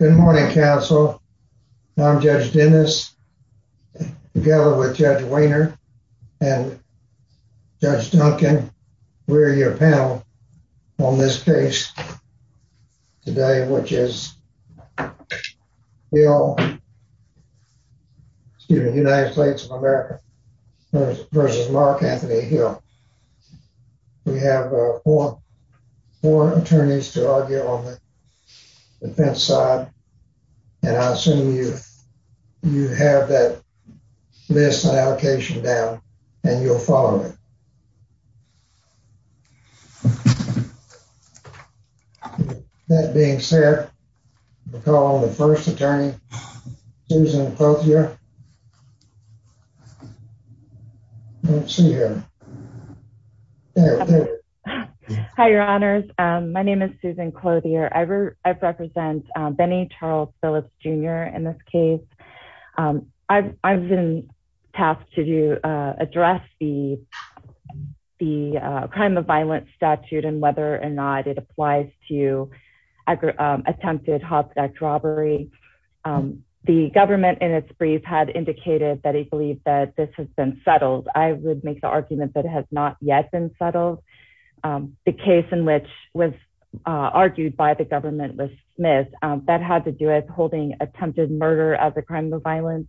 Good morning, counsel. I'm Judge Dennis together with Judge Weiner and Judge Duncan. We're your panel on this case today, which is the United States of America v. Rock Anthony Hill. We have four attorneys to argue on the defense side, and I assume you have that list and allocation down and you'll follow it. That being said, we'll call the first attorney, Susan Clothier. Hi, Your Honors. My name is Susan Clothier. I represent Benny Charles Phillips Jr. in this case. I've been tasked to address the crime of violence statute and whether or not it applies to attempted hostage robbery. The government, in its brief, had indicated that it believed that this has been settled. I would make the argument that it has not yet been settled. The case in which was argued by the government was Smith. That had to do with holding attempted murder as a crime of violence.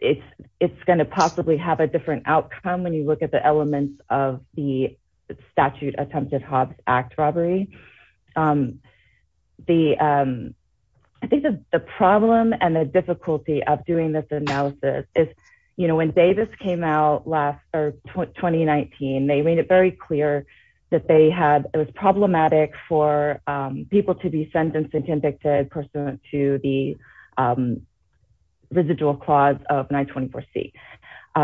It's going to possibly have a different outcome when you look at the elements of the statute, Attempted Hobbs Act Robbery. I think the problem and the difficulty of doing this analysis is when Davis came out last 2019, they made it very clear that it was problematic for people to be sentenced and convicted pursuant to the residual clause of 924C.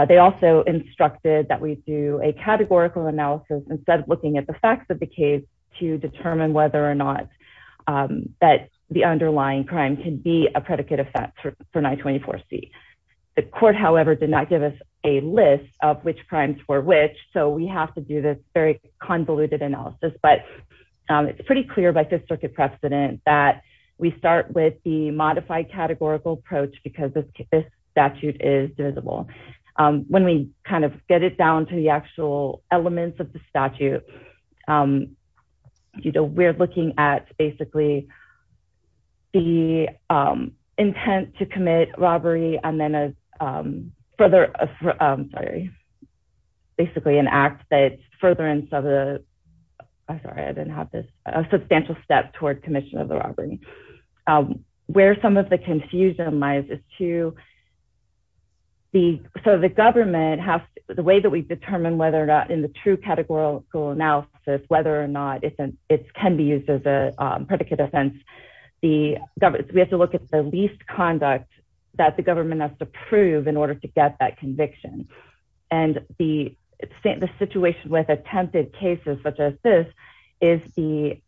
They also instructed that we do a categorical analysis instead of looking at the facts of the case to determine whether or not the underlying crime can be a predicate effect for 924C. The court, however, did not give us a list of which crimes were which, so we have to do this very convoluted analysis. It's pretty clear by Fifth Circuit precedent that we start with the modified categorical approach because this statute is divisible. When we get it down to the actual elements of the statute, we're looking at the intent to commit robbery and then a substantial step toward commission of the robbery. Where some of the confusion lies is the way that we determine whether or not, in the true categorical analysis, whether or not it can be used as a predicate offense, we have to look at the least conduct that the government has to prove in order to get that conviction. The situation with attempted cases such as this is we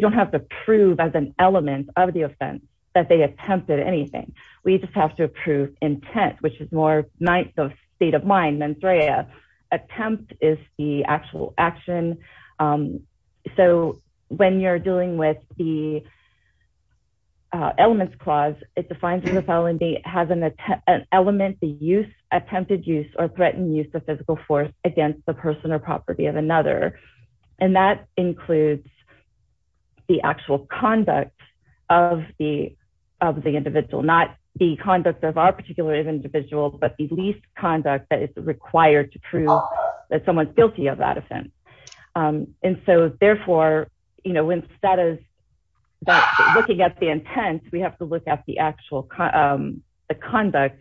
don't have to prove as an element of the offense that they attempted anything. We just have to prove intent, which is more ninth of state of mind than threat. Attempt is the actual action. When you're dealing with the elements clause, it defines an attempted use or threatened use of physical force against the person or property of another. That includes the actual conduct of the individual, not the conduct of our particular individual, but the least conduct that is required to prove that someone's guilty of that offense. Therefore, instead of looking at the intent, we have to look at the actual conduct.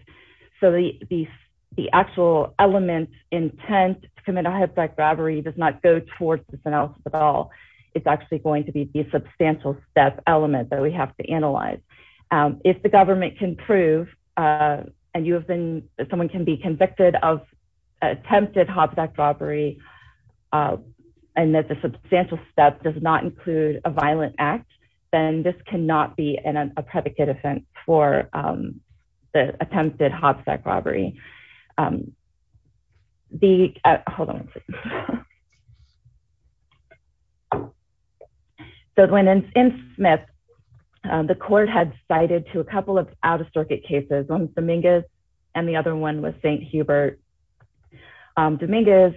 The actual element intent to commit a hijack robbery does not go towards this analysis at all. It's actually going to be the substantial step element that we have to analyze. If the government can prove and someone can be convicted of attempted hobstack robbery and that the substantial step does not include a violent act, then this cannot be a predicate offense for the attempted hobstack robbery. In Smith, the court had cited to a couple of out-of-circuit cases, one was Dominguez and the other one was St. Hubert. Dominguez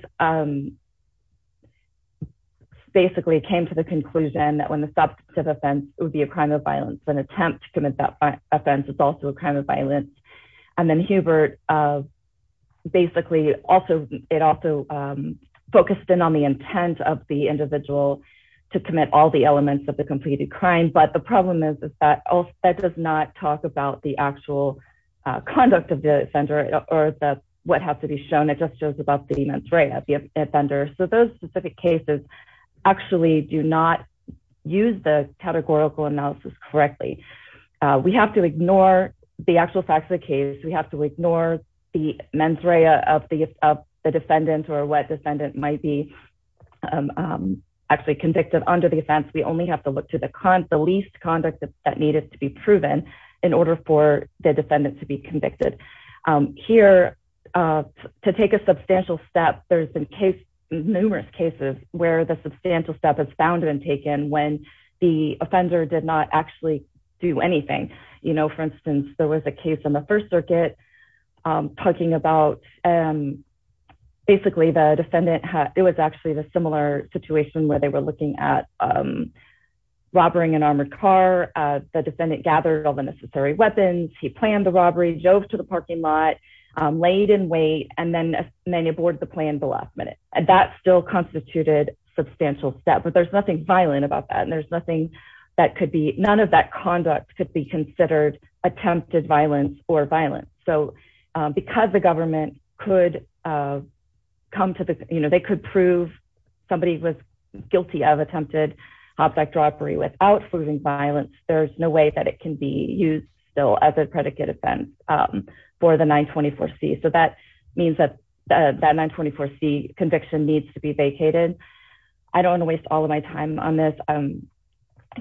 basically came to the conclusion that when the substantive offense would be a crime of violence, an attempt to commit that offense is also a crime of violence. Then Hubert basically also focused in on the intent of the individual to commit all the elements of the completed crime. The problem is that that does not talk about the actual conduct of the offender or what has to be shown. It just shows about the events right at the offender. Those specific cases actually do not use the categorical analysis correctly. We have to ignore the actual facts of the case. We have to ignore the mens rea of the defendant or what defendant might be actually convicted under the offense. We only have to look to the least conduct that needed to be proven in order for the defendant to be convicted. Here, to take a substantial step, there's been numerous cases where the substantial step has been found and taken when the offender did not actually do anything. For instance, there was a case in the First Circuit talking about basically the defendant had, it was actually a similar situation where they were looking at robbering an armored car. The defendant gathered all the necessary weapons, he planned the robbery, drove to the parking lot, laid in wait, and then aborted the plan at the last minute. That still constituted a substantial step, but there's nothing violent about that. There's nothing that could be, none of that conduct could be considered attempted violence or violence. Because the government could come to the, they could prove somebody was guilty of attempted object robbery without proving violence, there's no way that it can be used still as a predicate offense for the 924C. That means that that 924C conviction needs to be vacated. I don't want to waste all of my time on this. I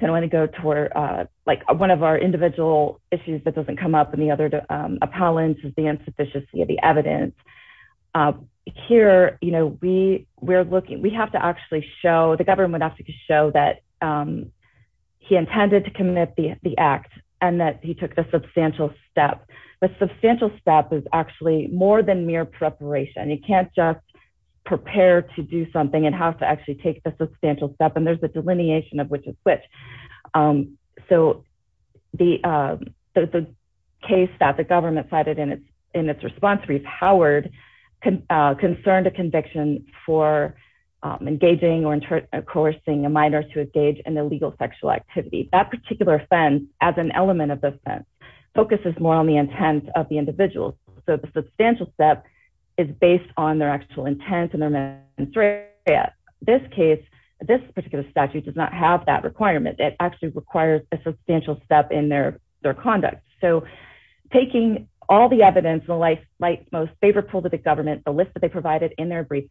want to go toward one of our individual issues that doesn't come up in the other appellants is the insufficiency of the evidence. Here, we have to actually show, the government has to show that he intended to commit the act and that he took the substantial step. The substantial step is actually more than mere preparation. You can't just prepare to do something and have to actually take the substantial step. There's a delineation of which is which. The case that the government cited in its response repowered concern to conviction for engaging or coercing a minor to engage in illegal sexual activity. That particular offense, as an element of the offense, focuses more on the intent of the individual. The substantial step is based on their actual intent. In this case, this particular statute does not have that requirement. It actually requires a substantial step in their conduct. Taking all the evidence, the most favorable to the government, the list that they provided in their brief,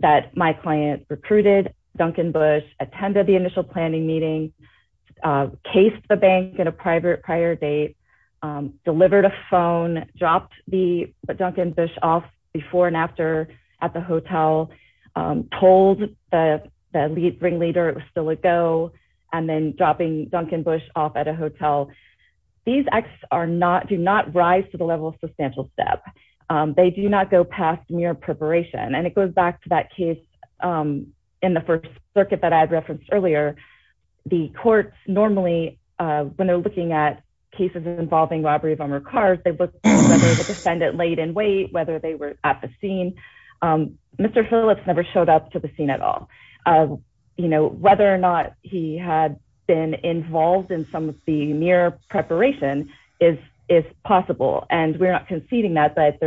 that my client recruited Duncan Bush, attended the initial planning meeting, cased the bank at a prior date, delivered a phone, dropped Duncan Bush off before and after at the hotel, told the ringleader it was still a go, and then dropping Duncan Bush off at a hotel. These acts do not rise to the level of substantial step. They do not go past mere preparation. And it goes back to that case in the First Circuit that I had referenced earlier. The courts normally, when they're looking at cases involving robberies on their cars, they look at whether the defendant laid in wait, whether they were at the scene. Mr. Phillips never showed up to the scene at all. Whether or not he had been involved in some of the mere preparation is possible. And we're not conceding that, but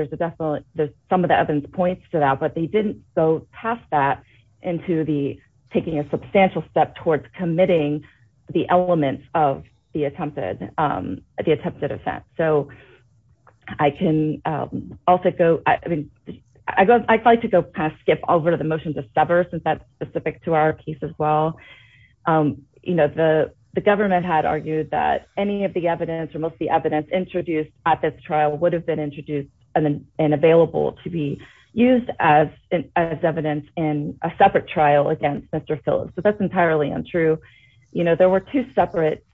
some of the evidence points to that. But they didn't go past that into taking a substantial step towards committing the elements of the attempted offense. I'd like to skip over the motion to sever, since that's specific to our case as well. The government had argued that any of the evidence or most of the evidence introduced at this trial would have been introduced and available to be used as evidence in a separate trial against Mr. Phillips. But that's entirely untrue. There were two separate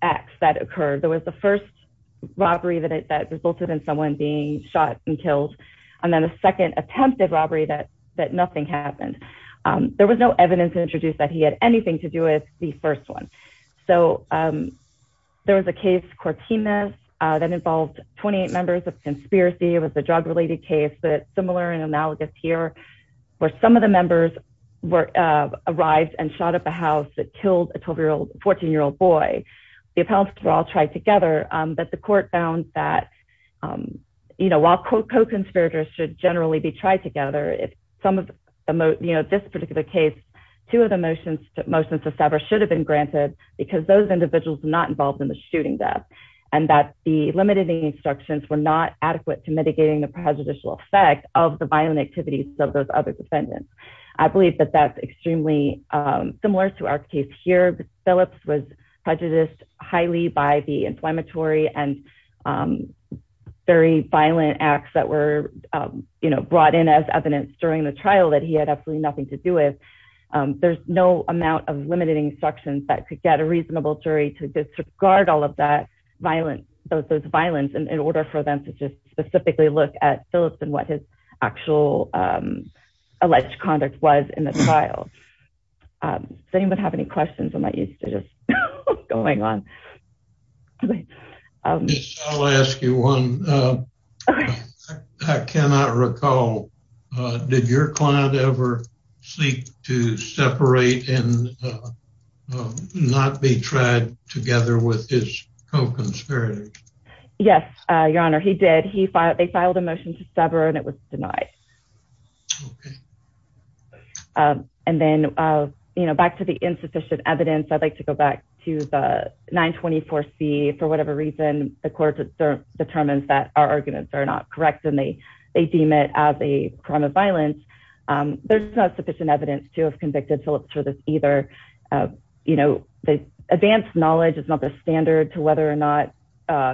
acts that occurred. There was the first robbery that resulted in someone being shot and killed, and then a second attempted robbery that nothing happened. There was no evidence introduced that he had anything to do with the first one. So there was a case, Cortina, that involved 28 members of a conspiracy. It was a drug-related case, but it's similar and analogous here, where some of the members arrived and shot up a house that killed a 14-year-old boy. The appellants were all tried together, but the court found that while co-conspirators should generally be tried together, in this particular case, two of the motions to sever should have been granted because those individuals were not involved in the shooting death, and that the limiting instructions were not adequate to mitigating the prejudicial effect of the violent activities of those other defendants. I believe that that's extremely similar to our case here. Phillips was prejudiced highly by the inflammatory and very violent acts that were brought in as evidence during the trial that he had absolutely nothing to do with. There's no amount of limiting instructions that could get a reasonable jury to disregard all of those violence in order for them to just specifically look at Phillips and what his actual alleged conduct was in the trial. Does anyone have any questions on what's going on? I'll ask you one. I cannot recall. Did your client ever seek to separate and not be tried together with his co-conspirator? Yes, Your Honor, he did. They filed a motion to sever, and it was denied. Okay. And then, you know, back to the insufficient evidence, I'd like to go back to the 924C. For whatever reason, the court determines that our arguments are not correct, and they deem it as a crime of violence. There's not sufficient evidence to have convicted Phillips for this either. You know, advanced knowledge is not the standard to whether or not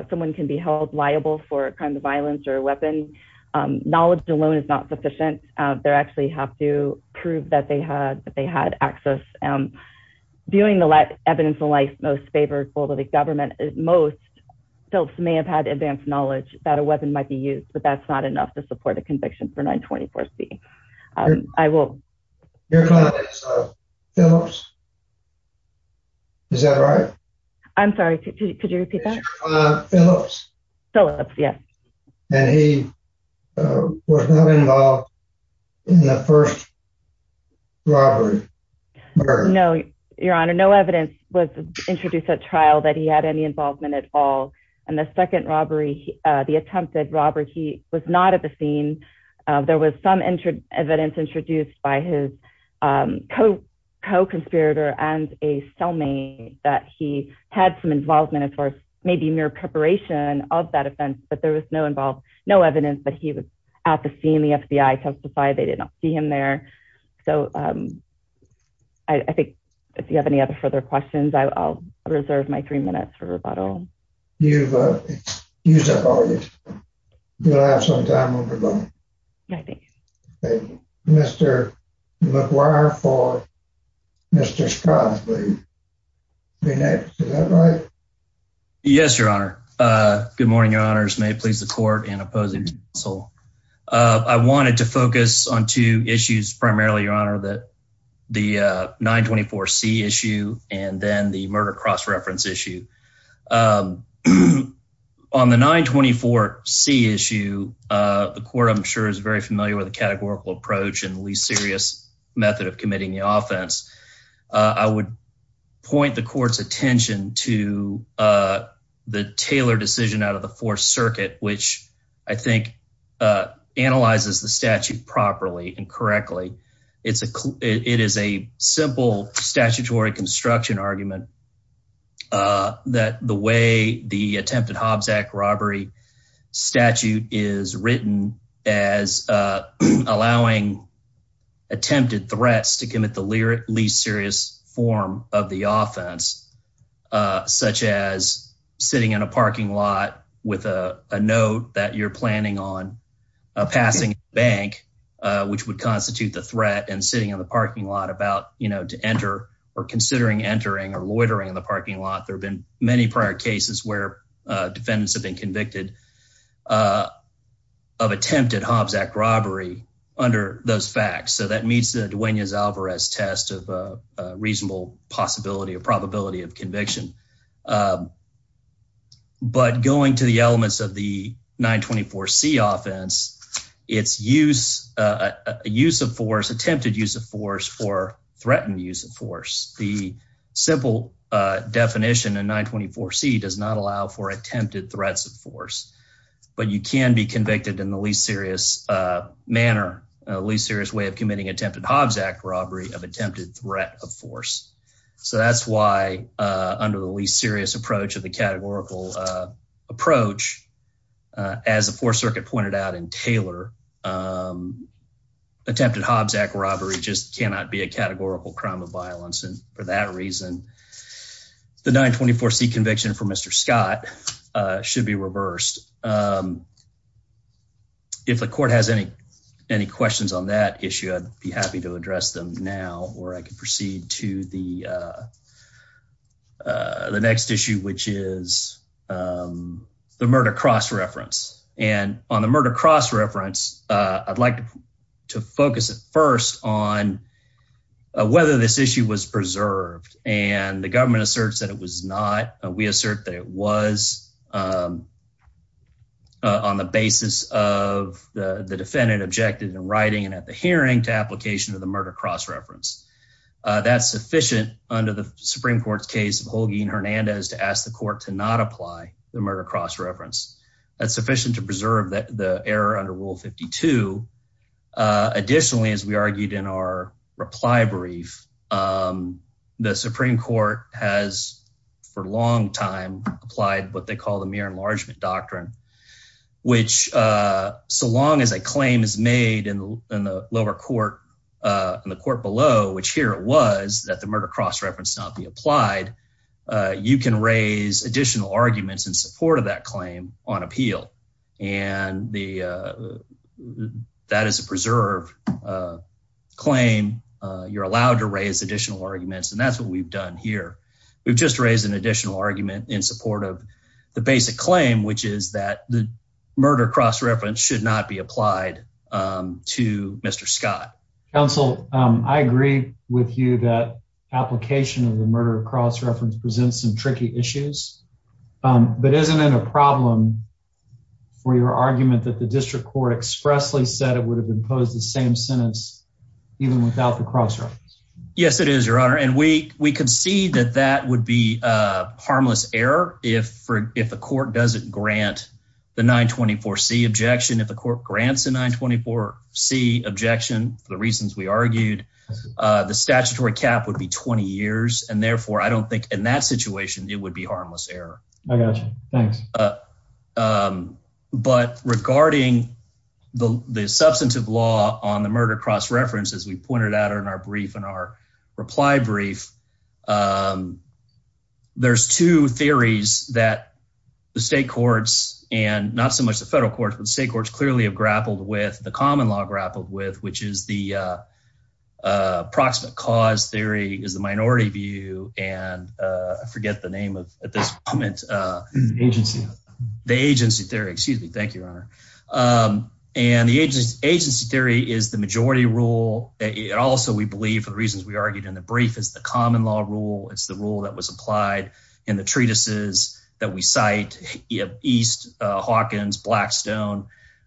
someone can be held liable for a crime of violence or a weapon. Knowledge alone is not sufficient. They actually have to prove that they had access. Viewing the evidence in light most favorable to the government, most Phillips may have had advanced knowledge that a weapon might be used, but that's not enough to support a conviction for 924C. Your client is Phillips? Is that right? I'm sorry, could you repeat that? Phillips. Phillips, yes. And he was not involved in the first robbery? No, Your Honor, no evidence was introduced at trial that he had any involvement at all. In the second robbery, the attempted robbery, he was not at the scene. There was some evidence introduced by his co-conspirator and a cellmate that he had some involvement, as far as maybe mere preparation of that offense, but there was no evidence that he was at the scene. The FBI testified they did not see him there. So I think if you have any other further questions, I'll reserve my three minutes for rebuttal. You've used up all your time. You'll have some time when we're done. Thank you. Mr. McGuire for Mr. Scroggins. May I ask, is that right? Yes, Your Honor. Good morning, Your Honors. May it please the court and opposing counsel. I wanted to focus on two issues primarily, Your Honor, the 924C issue and then the murder cross-reference issue. On the 924C issue, the court, I'm sure, is very familiar with the categorical approach and the least serious method of committing the offense. I would point the court's attention to the Taylor decision out of the Fourth Circuit, which I think analyzes the statute properly and correctly. It is a simple statutory construction argument that the way the attempted Hobbs Act robbery statute is written as allowing attempted threats to commit the least serious form of the offense, such as sitting in a parking lot with a note that you're planning on passing a bank, which would constitute the threat and sitting in the parking lot about, you know, to enter or considering entering or loitering in the parking lot. There have been many prior cases where defendants have been convicted of attempted Hobbs Act robbery under those facts. So that meets the Duenas-Alvarez test of reasonable possibility or probability of conviction. But going to the elements of the 924C offense, it's attempted use of force for threatened use of force. The simple definition in 924C does not allow for attempted threats of force. But you can be convicted in the least serious manner, least serious way of committing attempted Hobbs Act robbery of attempted threat of force. So that's why under the least serious approach of the categorical approach, as the Fourth Circuit pointed out in Taylor, attempted Hobbs Act robbery just cannot be a categorical crime of violence. And for that reason, the 924C conviction for Mr. Scott should be reversed. If the court has any questions on that issue, I'd be happy to address them now or I can proceed to the next issue, which is the murder cross reference. And on the murder cross reference, I'd like to focus first on whether this issue was preserved. And the government asserts that it was not. We assert that it was on the basis of the defendant objected in writing and at the hearing to application of the murder cross reference. That's sufficient under the Supreme Court's case of Holguin-Hernandez to ask the court to not apply the murder cross reference. That's sufficient to preserve the error under Rule 52. Additionally, as we argued in our reply brief, the Supreme Court has for a long time applied what they call the mere enlargement doctrine. Which so long as a claim is made in the lower court, in the court below, which here it was that the murder cross reference not be applied, you can raise additional arguments in support of that claim on appeal. And that is a preserved claim. You're allowed to raise additional arguments, and that's what we've done here. We've just raised an additional argument in support of the basic claim, which is that the murder cross reference should not be applied to Mr. Scott. Counsel, I agree with you that application of the murder cross reference presents some tricky issues. But isn't it a problem where your argument that the district court expressly said it would have imposed the same sentence even without the cross? Yes, it is, Your Honor. And we concede that that would be harmless error if the court doesn't grant the 924C objection. If the court grants the 924C objection for the reasons we argued, the statutory cap would be 20 years, and therefore I don't think in that situation it would be harmless error. I got you. Thanks. But regarding the substantive law on the murder cross reference, as we pointed out in our brief, in our reply brief, there's two theories that the state courts and not so much the federal courts, but the state courts clearly have grappled with, the common law grappled with, which is the approximate cause theory is the minority view, and I forget the name of this comment. The agency theory. The agency theory. Excuse me. Thank you, Your Honor. And the agency theory is the majority rule. Also, we believe, for the reasons we argued in the brief, it's the common law rule. It's the rule that was applied in the treatises that we cite, East, Hawkins, Blackstone.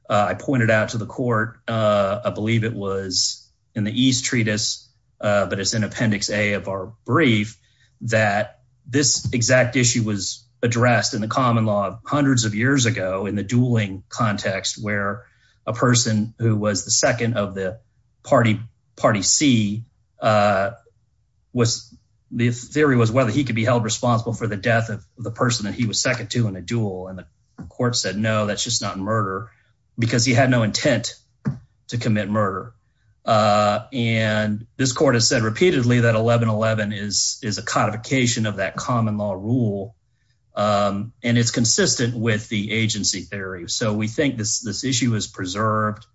I pointed out to the court, I believe it was in the East treatise, but it's in appendix A of our brief, that this exact issue was addressed in the common law hundreds of years ago in the dueling context where a person who was the second of the party C was – the person that he was second to in a duel, and the court said, no, that's just not murder, because he had no intent to commit murder. And this court has said repeatedly that 1111 is a codification of that common law rule, and it's consistent with the agency theory. So we think this issue is preserved.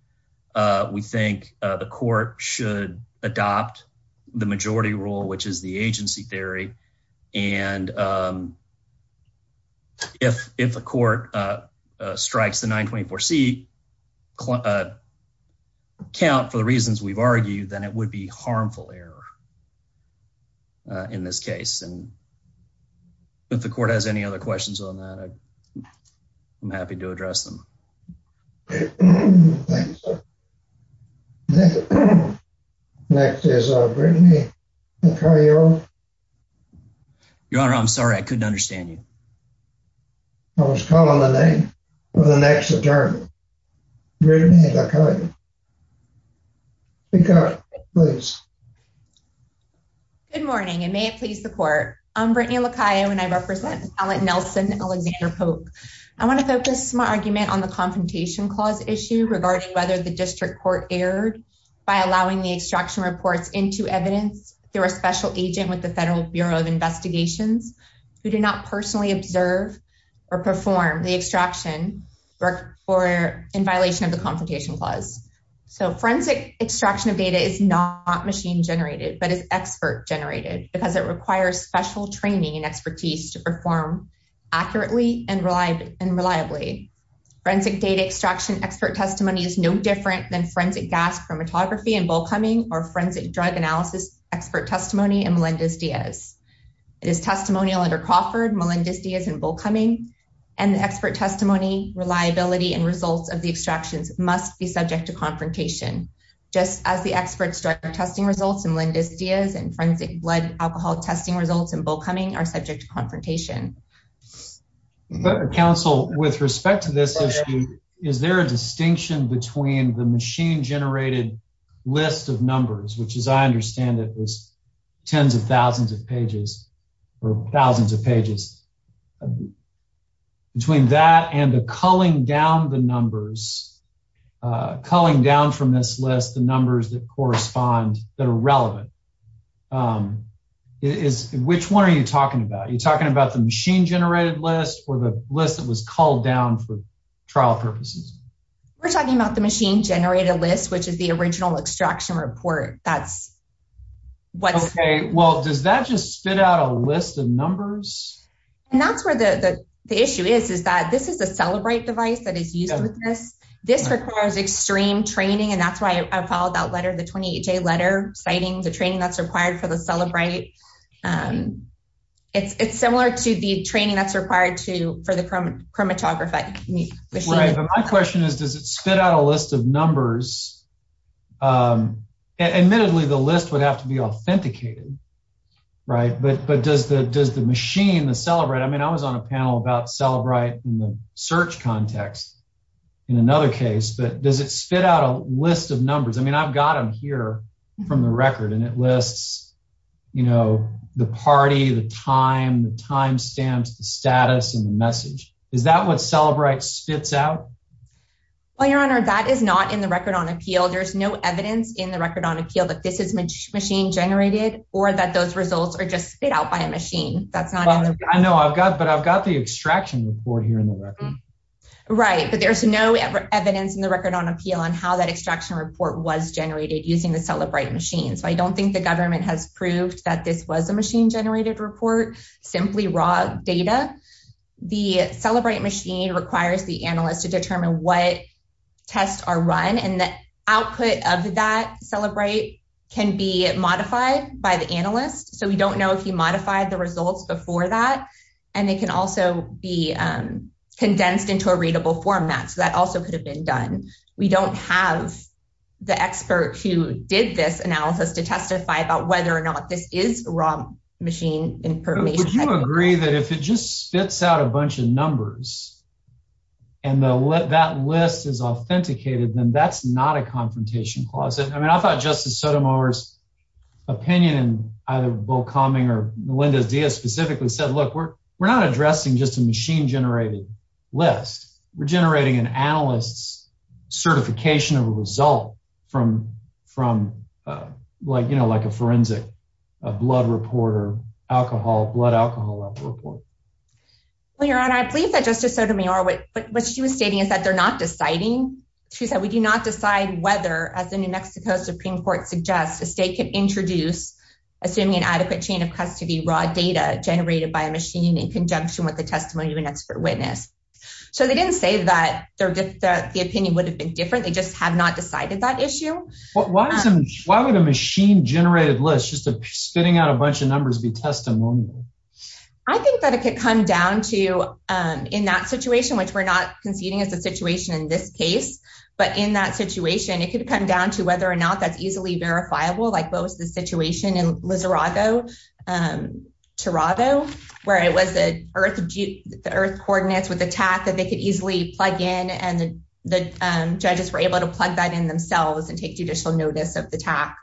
We think the court should adopt the majority rule, which is the agency theory, and if a court strikes the 924C count for the reasons we've argued, then it would be harmful error in this case. If the court has any other questions on that, I'm happy to address them. Your Honor, I'm sorry. I couldn't understand you. I was calling the name of the next attorney. Good morning, and may it please the court. I'm Brittany LaCaia, and I represent Alan Nelson, Eleanor Pope. I want to focus my argument on the Confrontation Clause issue regarding whether the district court erred by allowing the extraction report into evidence through a special agent with the Federal Bureau of Investigation who did not personally observe or perform the extraction in violation of the Confrontation Clause. Forensic extraction of data is not machine-generated, but is expert-generated because it requires special training and expertise to perform accurately and reliably. Forensic data extraction expert testimony is no different than forensic gas chromatography and bull cumming or forensic drug analysis expert testimony and Melendez-Diaz. It is testimonial under Crawford, Melendez-Diaz, and bull cumming, and the expert testimony, reliability, and results of the extractions must be subject to confrontation. Just as the expert testing results in Melendez-Diaz and forensic blood alcohol testing results in bull cumming are subject to confrontation. Counsel, with respect to this issue, is there a distinction between the machine-generated list of numbers, which as I understand it is tens of thousands of pages, or thousands of pages, between that and the culling down the numbers, culling down from this list the numbers that correspond, that are relevant? Which one are you talking about? Are you talking about the machine-generated list or the list that was culled down for trial purposes? We're talking about the machine-generated list, which is the original extraction report. Okay, well, does that just spit out a list of numbers? And that's where the issue is, is that this is a Celebrate device that is used with this. This requires extreme training, and that's why I called that letter, the 28-J letter, citing the training that's required for the Celebrate. It's similar to the training that's required for the chromatography. My question is, does it spit out a list of numbers? Admittedly, the list would have to be authenticated, right? But does the machine, the Celebrate, I mean, I was on a panel about Celebrate in the search context in another case, but does it spit out a list of numbers? I mean, I've got them here from the record, and it lists the party, the time, the timestamps, the status, and the message. Is that what Celebrate spits out? Well, Your Honor, that is not in the record on appeal. There's no evidence in the record on appeal that this is machine-generated or that those results are just spit out by a machine. I know, but I've got the extraction report here in the record. Right, but there's no evidence in the record on appeal on how that extraction report was generated using the Celebrate machine. I don't think the government has proved that this was a machine-generated report, simply raw data. The Celebrate machine requires the analyst to determine what tests are run, and the output of that Celebrate can be modified by the analyst. So we don't know if he modified the results before that, and it can also be condensed into a readable format, so that also could have been done. We don't have the expert who did this analysis to testify about whether or not this is raw machine information. But would you agree that if it just spits out a bunch of numbers, and that list is authenticated, then that's not a confrontation clause? I mean, I thought Justice Sotomayor's opinion, either Bill Comey or Melinda Zia specifically, said, look, we're not addressing just a machine-generated list. We're generating an analyst's certification of a result from, you know, like a forensic blood report or blood alcohol report. Your Honor, I believe that Justice Sotomayor, what she was stating is that they're not deciding. She said, we do not decide whether, as the New Mexico Supreme Court suggests, the state can introduce, assuming an adequate chain of custody, raw data generated by a machine in conjunction with the testimony of an expert witness. So they didn't say that the opinion would have been different. They just have not decided that issue. Why would a machine-generated list, just spitting out a bunch of numbers, be testimonial? I think that it could come down to, in that situation, which we're not conceding it's a situation in this case, but in that situation, it could come down to whether or not that's easily verifiable. Like what was the situation in Littorato, where it was the Earth coordinates with a task that they could easily plug in, and the judges were able to plug that in themselves and take judicial notice of the task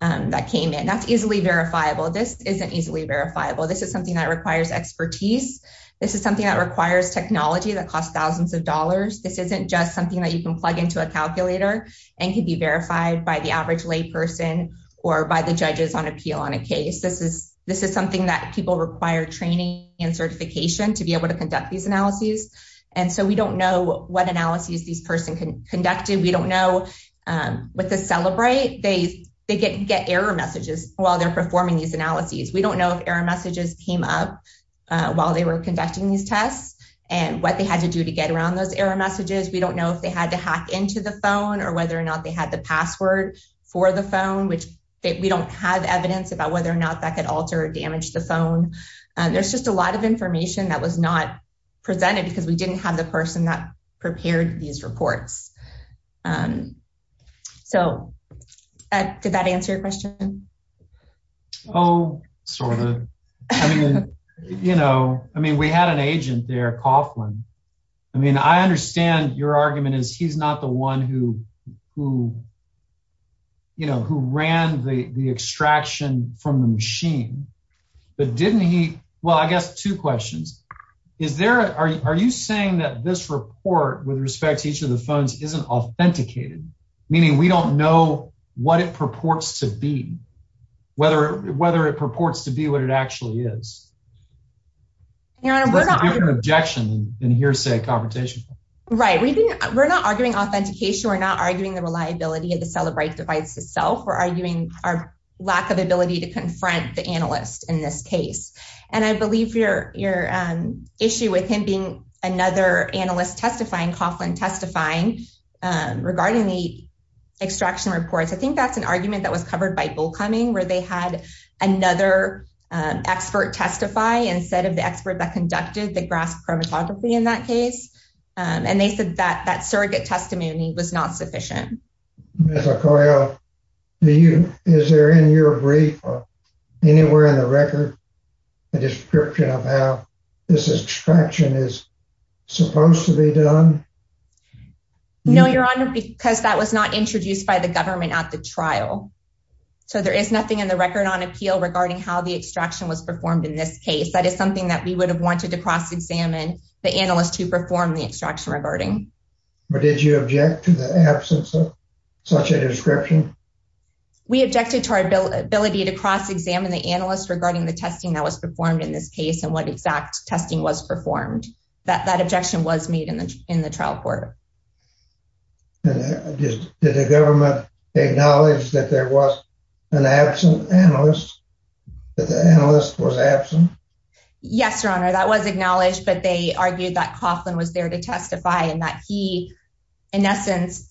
that came in. That's easily verifiable. This isn't easily verifiable. This is something that requires expertise. This is something that requires technology that costs thousands of dollars. This isn't just something that you can plug into a calculator and can be verified by the average layperson or by the judges on appeal on a case. This is something that people require training and certification to be able to conduct these analyses. We don't know what analyses this person conducted. We don't know what they celebrate. They get error messages while they're performing these analyses. We don't know if error messages came up while they were conducting these tests and what they had to do to get around those error messages. We don't know if they had to hack into the phone or whether or not they had the password for the phone. We don't have evidence about whether or not that could alter or damage the phone. There's just a lot of information that was not presented because we didn't have the person that prepared these reports. So, did that answer your question? Oh, sort of. I mean, we had an agent there, Coughlin. I mean, I understand your argument is he's not the one who ran the extraction from the machine. But didn't he, well, I've got two questions. Are you saying that this report with respect to each of the phones isn't authenticated? Meaning we don't know what it purports to be. Whether it purports to be what it actually is. There's a different objection than hearsay competition. Right. We're not arguing authentication. We're not arguing the reliability of the Celebrite device itself. We're arguing our lack of ability to confront the analysts in this case. And I believe your issue with him being another analyst testifying, Coughlin testifying, regarding the extraction reports. I think that's an argument that was covered by Bullcoming where they had another expert testify instead of the expert that conducted the graph chromatography in that case. And they said that that surrogate testimony was not sufficient. Ms. Arcoyo, is there in your brief or anywhere in the record a description of how this extraction is supposed to be done? No, Your Honor, because that was not introduced by the government at the trial. So there is nothing in the record on appeal regarding how the extraction was performed in this case. That is something that we would have wanted to cross-examine the analysts who performed the extraction regarding. But did you object to the absence of such a description? We objected to our ability to cross-examine the analysts regarding the testing that was performed in this case and what exact testing was performed. That objection was made in the trial court. Did the government acknowledge that there was an absent analyst, that the analyst was absent? Yes, Your Honor, that was acknowledged, but they argued that Coughlin was there to testify and that he, in essence,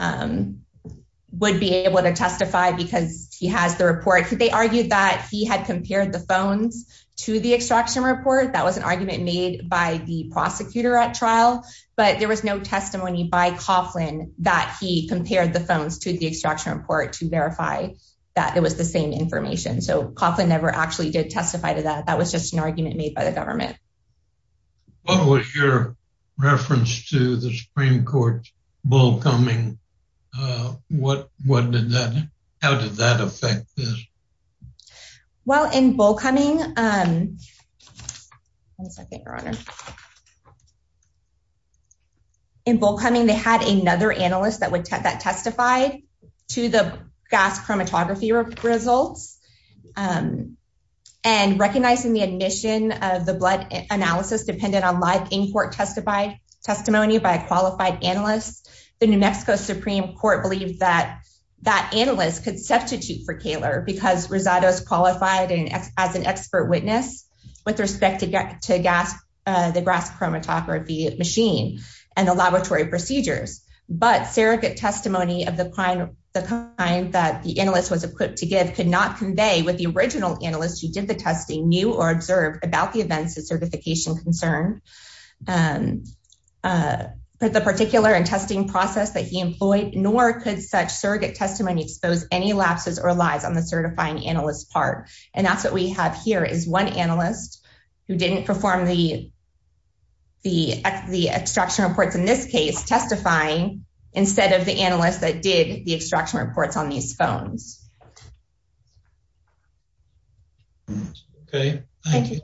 would be able to testify because he had the report. They argued that he had compared the phones to the extraction report. That was an argument made by the prosecutor at trial. But there was no testimony by Coughlin that he compared the phones to the extraction report to verify that it was the same information. So Coughlin never actually did testify to that. That was just an argument made by the government. What was your reference to the Supreme Court's bull coming? How did that affect this? Well, in bull coming, they had another analyst that testified to the gas chromatography results. And recognizing the admission of the blood analysis dependent on live in-court testimony by a qualified analyst, the New Mexico Supreme Court believed that that analyst could substitute for Kaler because Rosado's qualified as an expert witness with respect to the gas chromatography machine and the laboratory procedures. But surrogate testimony of the kind that the analyst was equipped to give did not convey what the original analyst who did the testing knew or observed about the events of certification concerns. But the particular and testing process that he employed nor could such surrogate testimony expose any lapses or lies on the certifying analyst's part. And that's what we have here is one analyst who didn't perform the extraction reports in this case testifying instead of the analyst that did the extraction reports on these phones. Thank you. Thank you.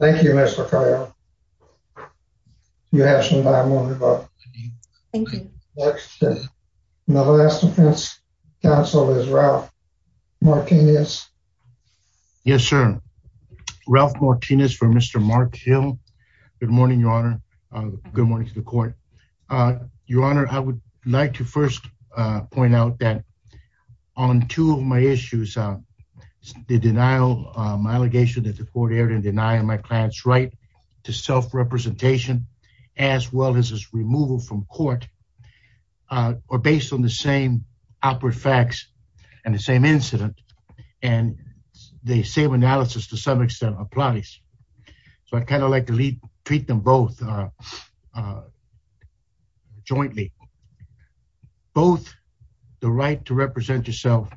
Thank you, Mr. You have some time. Thank you. No, that's not so as well. Yes. Yes, sir. Ralph Martinez for Mr. Mark Hill. Good morning, Your Honor. Good morning to the court. Your Honor, I would like to first point out that on two of my issues, the denial, my allegation that the court erred in denying my client's right to self-representation as well as his removal from court are based on the same awkward facts and the same incident. And the same analysis to some extent applies. So I kind of like to treat them both jointly. Both the right to represent yourself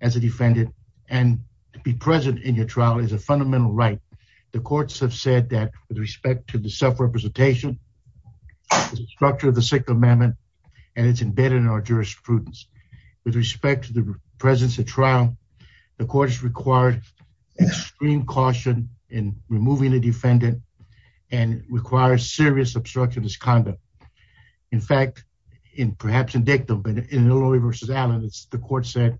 as a defendant and to be present in your trial is a fundamental right. The courts have said that with respect to the self-representation structure of the second amendment and it's embedded in our jurisprudence with respect to the presence of trial. The courts require extreme caution in removing the defendant and requires serious obstructionist conduct. In fact, in perhaps indicative in Illinois v. Adams, the court said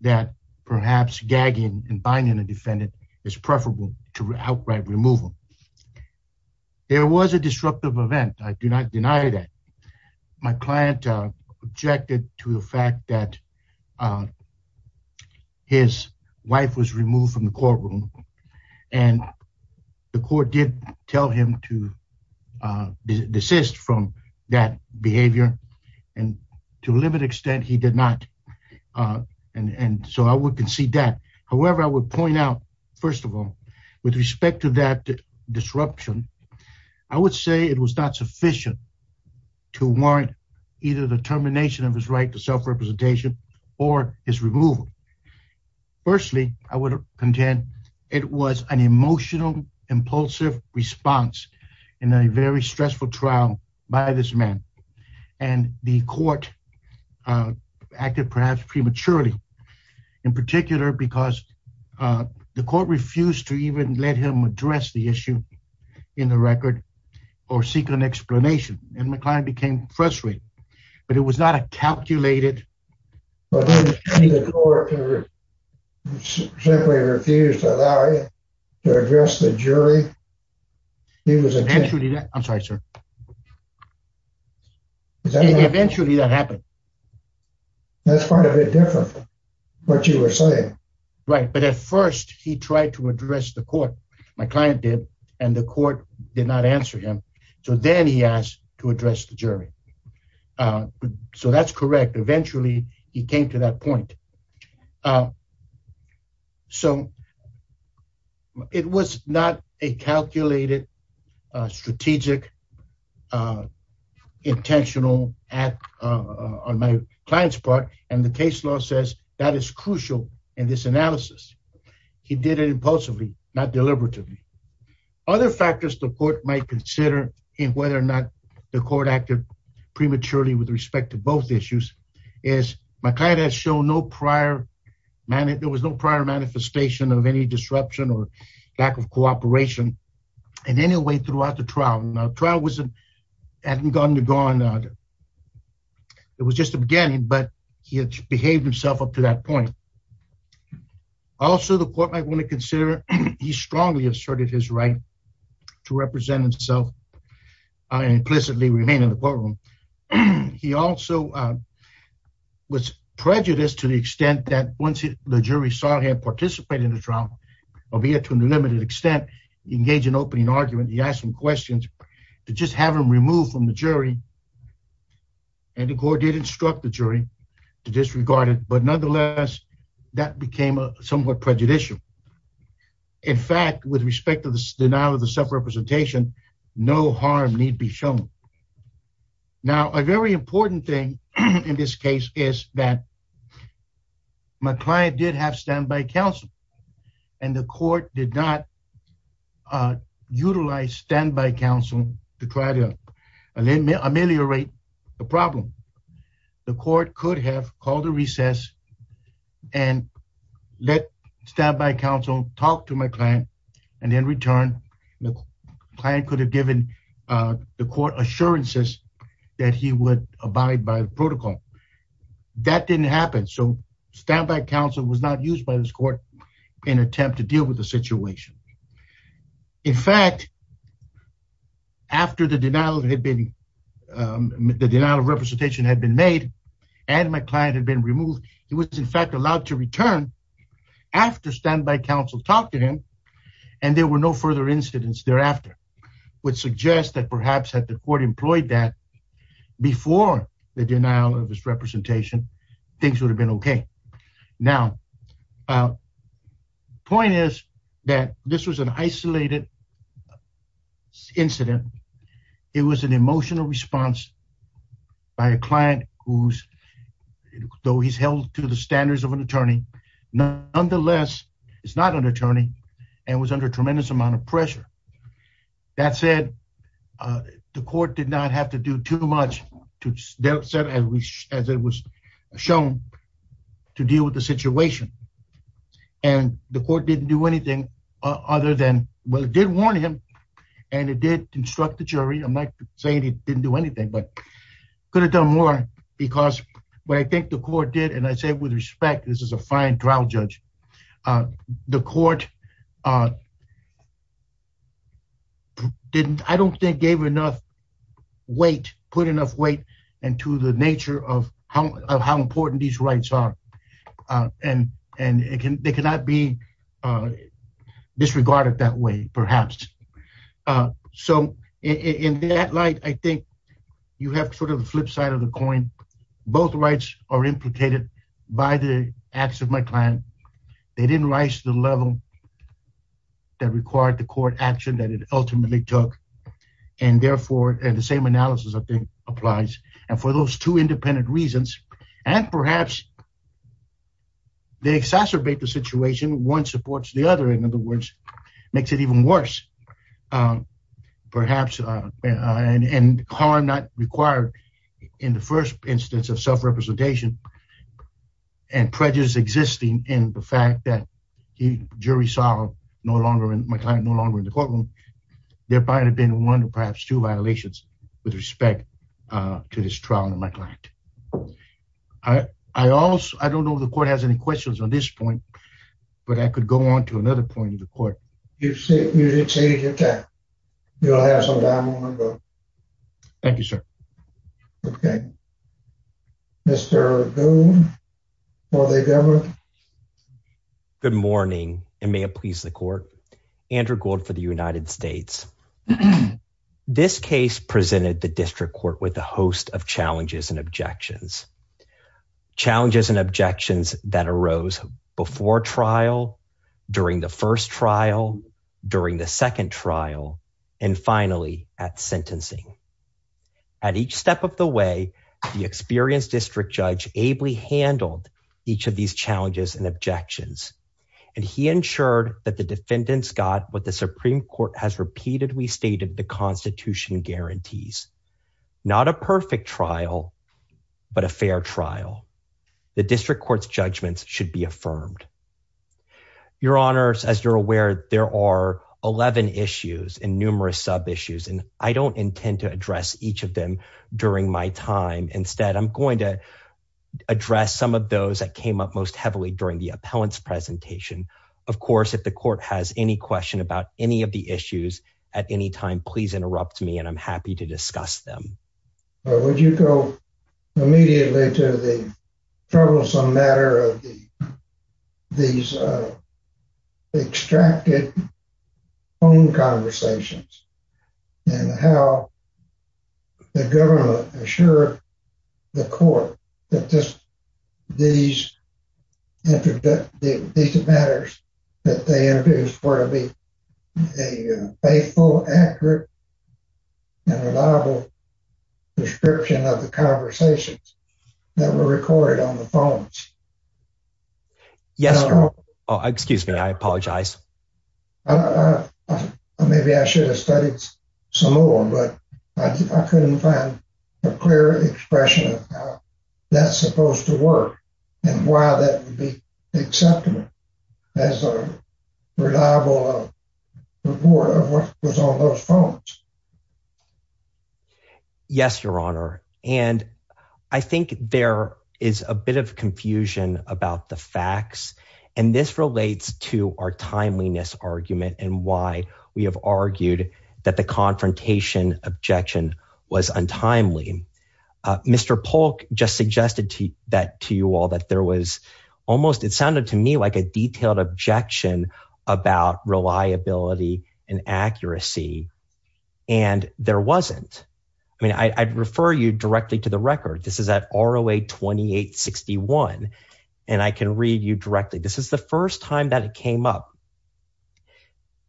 that perhaps gagging and binding a defendant is preferable to outright removal. There was a disruptive event. I do not deny that. My client objected to the fact that his wife was removed from the courtroom and the court did tell him to desist from that behavior. And to a limited extent he did not. And so I would concede that. To warrant either the termination of his right to self-representation or his removal. Firstly, I would contend it was an emotional, impulsive response in a very stressful trial by this man. And the court acted perhaps prematurely in particular because the court refused to even let him address the issue in the record or seek an explanation. And my client became frustrated. But it was not a calculated... But then the court simply refused to allow him to address the jury. He was eventually... I'm sorry, sir. Eventually that happened. That's quite a bit different from what you were saying. Right. But at first he tried to address the court. My client did. And the court did not answer him. So then he asked to address the jury. So that's correct. Eventually he came to that point. So it was not a calculated, strategic, intentional act on my client's part. And the case law says that is crucial in this analysis. He did it impulsively, not deliberately. Other factors the court might consider in whether or not the court acted prematurely with respect to both issues is my client has shown no prior... There was no prior manifestation of any disruption or lack of cooperation in any way throughout the trial. The trial was... It was just the beginning, but he had behaved himself up to that point. Also, the court might want to consider he strongly asserted his right to represent himself and implicitly remain in the courtroom. He also was prejudiced to the extent that once the jury saw him participate in the trial, albeit to a limited extent, engage in opening argument. He asked him questions. It just had him removed from the jury. And the court did instruct the jury to disregard it. But nonetheless, that became somewhat prejudicial. In fact, with respect to the denial of the self-representation, no harm need be shown. Now, a very important thing in this case is that my client did have standby counsel. And the court did not utilize standby counsel to try to ameliorate the problem. The court could have called a recess and let standby counsel talk to my client. And in return, the client could have given the court assurances that he would abide by the protocol. That didn't happen. So standby counsel was not used by this court in attempt to deal with the situation. In fact, after the denial of representation had been made and my client had been removed, he was in fact allowed to return after standby counsel talked to him. And there were no further incidents thereafter, which suggests that perhaps if the court employed that before the denial of his representation, things would have been okay. Now, the point is that this was an isolated incident. It was an emotional response by a client who, though he's held to the standards of an attorney, nonetheless is not an attorney and was under tremendous amount of pressure. That said, the court did not have to do too much, as it was shown, to deal with the situation. And the court didn't do anything other than, well, it did warn him and it did instruct the jury. I'm not saying he didn't do anything, but could have done more because what I think the court did, and I say with respect, this is a fine trial judge. The court didn't, I don't think, gave enough weight, put enough weight into the nature of how important these rights are. And they cannot be disregarded that way, perhaps. So in that light, I think you have sort of a flip side of the coin. Both rights are implicated by the acts of my client. They didn't rise to the level that required the court action that it ultimately took. And therefore, the same analysis, I think, applies. And for those two independent reasons, and perhaps they exacerbate the situation. One supports the other, in other words, makes it even worse. Perhaps, and harm not required in the first instance of self-representation and prejudice existing in the fact that the jury saw my client no longer in the courtroom. There might have been one or perhaps two violations with respect to this trial in my client. I also, I don't know if the court has any questions on this point, but I could go on to another point in the court. You did say you're done. You'll have some time to go. Thank you, sir. Okay. Mr. O'Donnell. Good morning, and may it please the court. Andrew Gould for the United States. This case presented the district court with a host of challenges and objections. Challenges and objections that arose before trial, during the first trial, during the second trial, and finally at sentencing. At each step of the way, the experienced district judge ably handled each of these challenges and objections. And he ensured that the defendants got what the Supreme Court has repeatedly stated the constitution guarantees. Not a perfect trial, but a fair trial. The district court's judgments should be affirmed. Your honors, as you're aware, there are 11 issues and numerous sub-issues, and I don't intend to address each of them during my time. Instead, I'm going to address some of those that came up most heavily during the appellant's presentation. Of course, if the court has any question about any of the issues at any time, please interrupt me, and I'm happy to discuss them. Would you go immediately to the troublesome matter of these extracted phone conversations, and how the government assured the court that these matters, that they were part of a faithful, accurate, and reliable description of the conversations that were recorded on the phones? Yes, Your Honor. Excuse me, I apologize. Maybe I should have studied some more, but I couldn't find a clear expression of how that's supposed to work, and why that would be acceptable. That's a reliable report of what was on those phones. Yes, Your Honor. And I think there is a bit of confusion about the facts, and this relates to our timeliness argument, and why we have argued that the confrontation objection was untimely. Mr. Polk just suggested that to you all, that there was almost, it sounded to me like a detailed objection about reliability and accuracy, and there wasn't. I mean, I'd refer you directly to the record. This is at ROA 2861, and I can read you directly. This is the first time that it came up,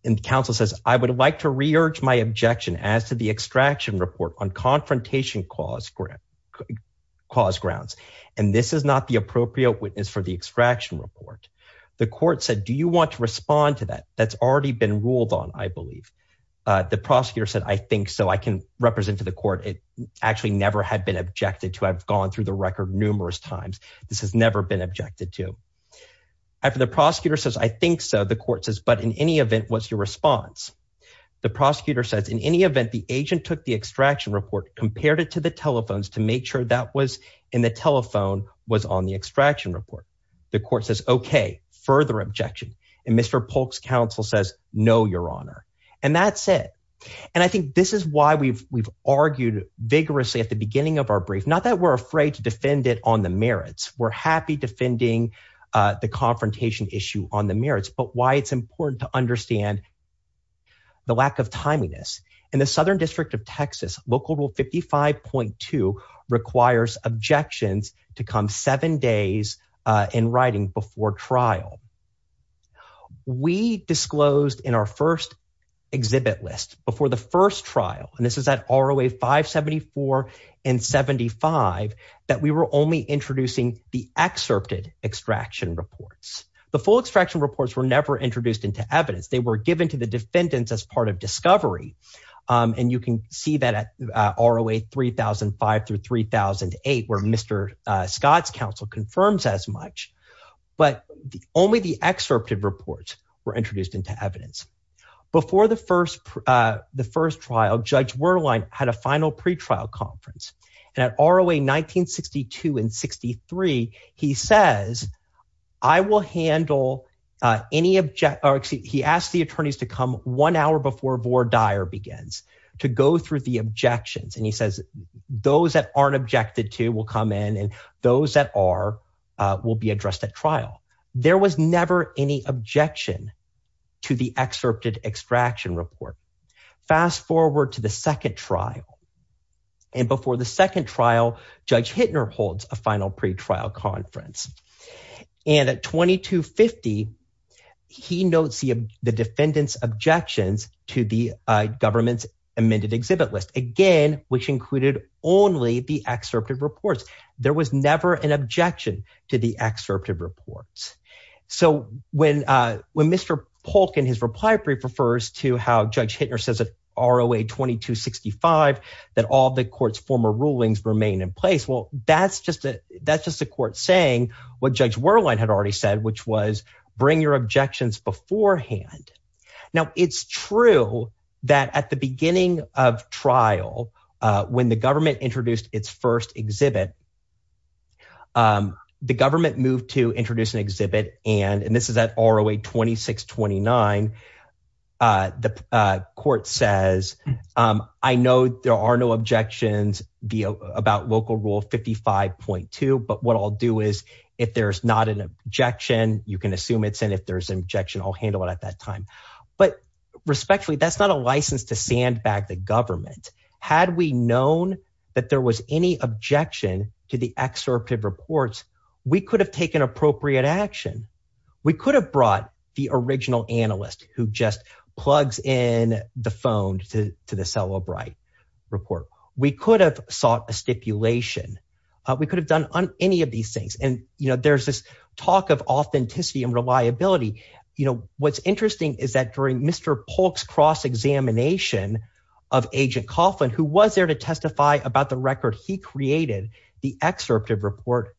and counsel says, I would like to re-urge my objection as to the extraction report on confrontation cause grounds, and this is not the appropriate witness for the extraction report. The court said, do you want to respond to that? That's already been ruled on, I believe. The prosecutor said, I think so. I can represent to the court. It actually never had been objected to. I've gone through the record numerous times. This has never been objected to. After the prosecutor says, I think so, the court says, but in any event, what's your response? The prosecutor says, in any event, the agent took the extraction report, compared it to the telephones to make sure that was in the telephone, was on the extraction report. The court says, okay, further objection, and Mr. Polk's counsel says, no, your honor, and that's it, and I think this is why we've argued vigorously at the beginning of our brief, not that we're afraid to defend it on the merits. We're happy defending the confrontation issue on the merits, but why it's important to understand the lack of timeliness. In the Southern District of Texas, Local Rule 55.2 requires objections to come seven days in writing before trial. We disclosed in our first exhibit list, before the first trial, and this is at ROA 574 and 75, that we were only introducing the excerpted extraction reports. The full extraction reports were never introduced into evidence. They were given to the defendants as part of discovery, and you can see that at ROA 3005 through 3008, where Mr. Scott's counsel confirms as much. But only the excerpted reports were introduced into evidence. Before the first trial, Judge Werlein had a final pretrial conference. At ROA 1962 and 63, he says, I will handle any – he asks the attorneys to come one hour before vore dire begins, to go through the objections. And he says, those that aren't objected to will come in, and those that are will be addressed at trial. There was never any objection to the excerpted extraction report. Fast forward to the second trial, and before the second trial, Judge Hittner holds a final pretrial conference. And at 2250, he notes the defendant's objections to the government's amended exhibit list. Again, which included only the excerpted reports. There was never an objection to the excerpted reports. So when Mr. Polk, in his reply brief, refers to how Judge Hittner says at ROA 2265 that all the court's former rulings remain in place, well, that's just a court saying what Judge Werlein had already said, which was bring your objections beforehand. Now, it's true that at the beginning of trial, when the government introduced its first exhibit, the government moved to introduce an exhibit, and this is at ROA 2629. The court says, I know there are no objections about Local Rule 55.2, but what I'll do is, if there's not an objection, you can assume it's in. If there's an objection, I'll handle it at that time. But respectfully, that's not a license to sandbag the government. Had we known that there was any objection to the excerpted reports, we could have taken appropriate action. We could have brought the original analyst who just plugs in the phone to the Sella Bright report. We could have sought a stipulation. We could have done any of these things, and there's this talk of authenticity and reliability. What's interesting is that during Mr. Polk's cross-examination of Agent Coughlin, who was there to testify about the record he created, the excerpted report,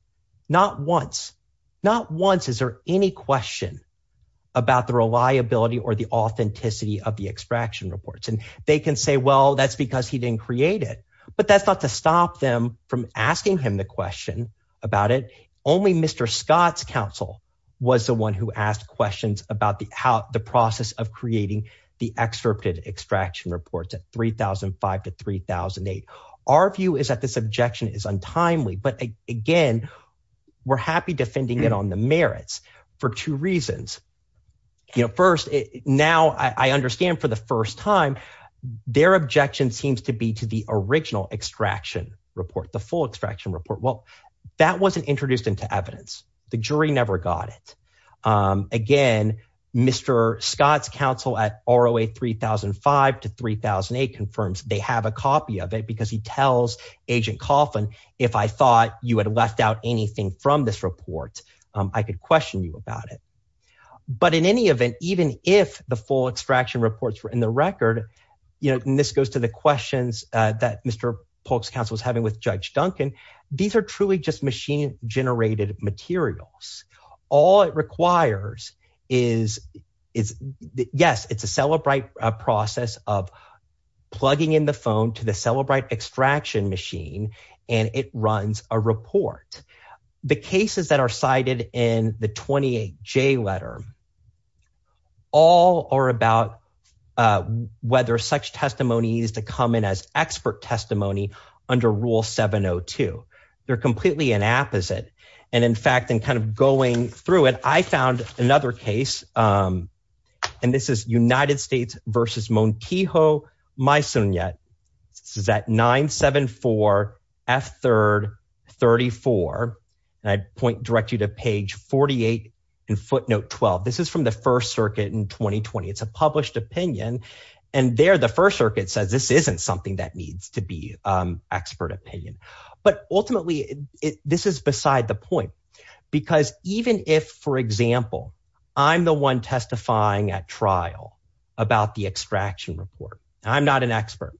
not once, not once is there any question about the reliability or the authenticity of the extraction reports. And they can say, well, that's because he didn't create it. But that's not to stop them from asking him the question about it. Only Mr. Scott's counsel was the one who asked questions about the process of creating the excerpted extraction reports at 3005 to 3008. Our view is that this objection is untimely, but again, we're happy defending it on the merits for two reasons. First, now I understand for the first time, their objection seems to be to the original extraction report, the full extraction report. Well, that wasn't introduced into evidence. The jury never got it. Again, Mr. Scott's counsel at ROA 3005 to 3008 confirms they have a copy of it because he tells Agent Coughlin, if I thought you had left out anything from this report, I could question you about it. But in any event, even if the full extraction reports were in the record, you know, and this goes to the questions that Mr. Polk's counsel is having with Judge Duncan, these are truly just machine generated materials. All it requires is, yes, it's a Cellebrite process of plugging in the phone to the Cellebrite extraction machine and it runs a report. Next, the cases that are cited in the 28J letter, all are about whether such testimony is to come in as expert testimony under Rule 702. They're completely an apposite. And in fact, in kind of going through it, I found another case, and this is United States versus Montijo Maizunet. This is at 974 F3rd 34. I point directly to page 48 in footnote 12. This is from the First Circuit in 2020. It's a published opinion. And there, the First Circuit says this isn't something that needs to be expert opinion. But ultimately, this is beside the point. Because even if, for example, I'm the one testifying at trial about the extraction report, and I'm not an expert,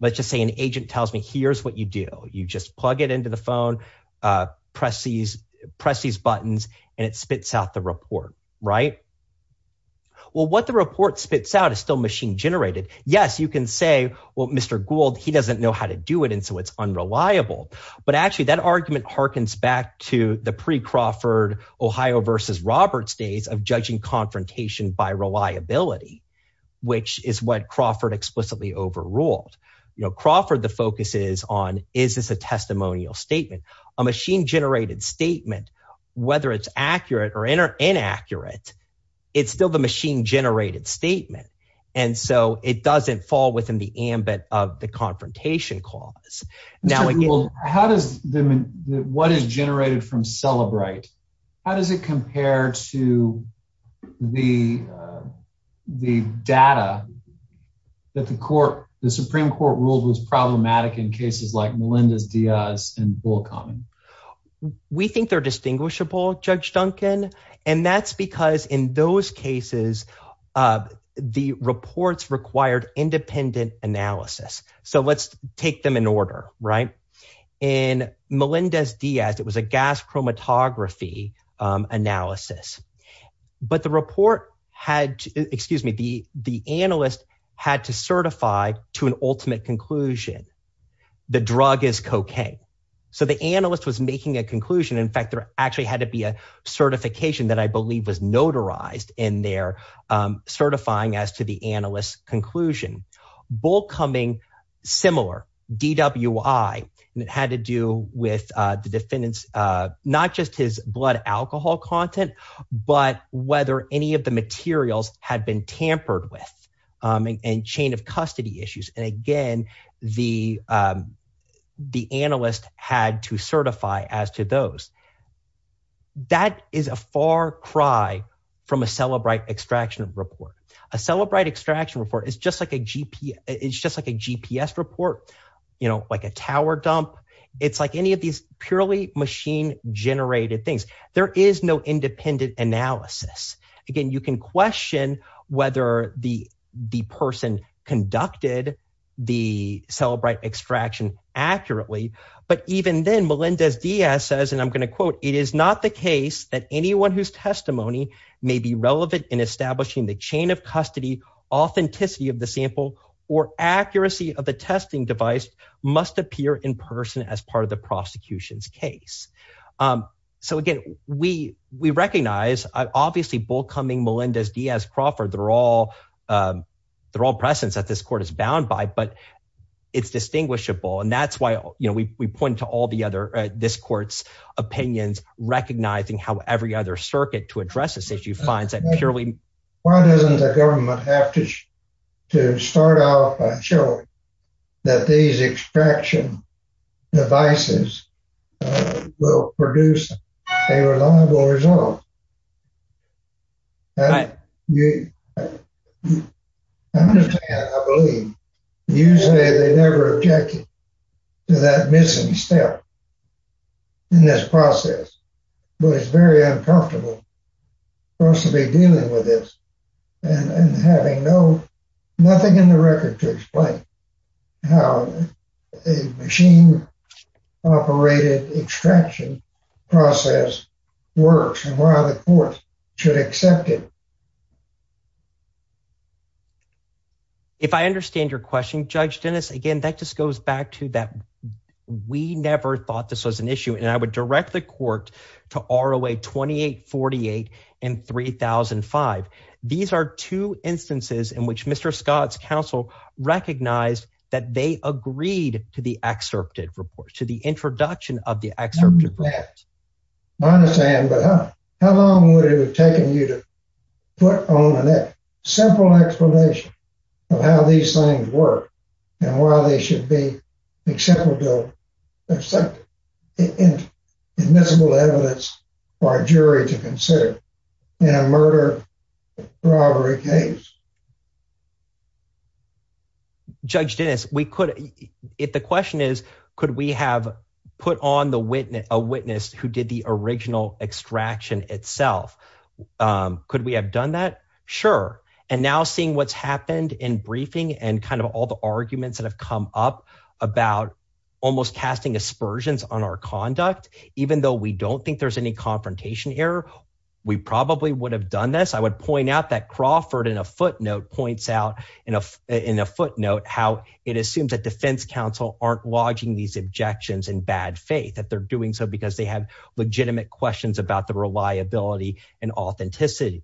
let's just say an agent tells me here's what you do. You just plug it into the phone, press these buttons, and it spits out the report, right? Well, what the report spits out is still machine generated. Yes, you can say, well, Mr. Gould, he doesn't know how to do it, and so it's unreliable. But actually, that argument harkens back to the pre-Crawford Ohio versus Roberts days of judging confrontation by reliability, which is what Crawford explicitly overruled. You know, Crawford, the focus is on is this a testimonial statement? A machine generated statement, whether it's accurate or inaccurate, it's still the machine generated statement. And so it doesn't fall within the ambit of the confrontation clause. Now, how does – what is generated from Celebrite, how does it compare to the data that the Supreme Court rules was problematic in cases like Melendez-Diaz and Bullock-Hammond? We think they're distinguishable, Judge Duncan, and that's because in those cases, the reports required independent analysis. So let's take them in order, right? In Melendez-Diaz, it was a gas chromatography analysis. But the report had – excuse me, the analyst had to certify to an ultimate conclusion. The drug is cocaine. So the analyst was making a conclusion. In fact, there actually had to be a certification that I believe was notarized in their certifying as to the analyst's conclusion. Bullcoming, similar. DWI, and it had to do with the defendant's not just his blood alcohol content, but whether any of the materials had been tampered with and chain of custody issues. And again, the analyst had to certify as to those. That is a far cry from a Celebrite extraction report. A Celebrite extraction report is just like a GPS report, like a tower dump. It's like any of these purely machine-generated things. There is no independent analysis. Again, you can question whether the person conducted the Celebrite extraction accurately. But even then, Melendez-Diaz says, and I'm going to quote, it is not the case that anyone whose testimony may be relevant in establishing the chain of custody, authenticity of the sample, or accuracy of the testing device must appear in person as part of the prosecution's case. So again, we recognize, obviously Bullcoming, Melendez-Diaz, Crawford, they're all persons that this court is bound by, but it's distinguishable. And that's why we point to all the other, this court's opinions, recognizing how every other circuit to address this issue finds that purely… to start off by showing that these extraction devices will produce a reasonable result. I believe, usually they never object to that missing step in this process. But it's very uncomfortable for us to be dealing with this and having nothing in the record to explain how a machine-operated extraction process works and why the courts should accept it. If I understand your question, Judge Dennis, again, that just goes back to that. We never thought this was an issue, and I would direct the court to ROA 2848 and 3005. These are two instances in which Mr. Scott's counsel recognized that they agreed to the excerpted report, to the introduction of the excerpted report. I understand, but how long would it have taken you to put on a simple explanation of how these things work and why they should be acceptable, acceptable, admissible evidence for a jury to consider in a murder-robbery case? Judge Dennis, we could – if the question is could we have put on a witness who did the original extraction itself, could we have done that? Sure, and now seeing what's happened in briefing and kind of all the arguments that have come up about almost casting aspersions on our conduct, even though we don't think there's any confrontation here, we probably would have done this. I would point out that Crawford in a footnote points out in a footnote how it assumes that defense counsel aren't lodging these objections in bad faith, that they're doing so because they have legitimate questions about the reliability and authenticity.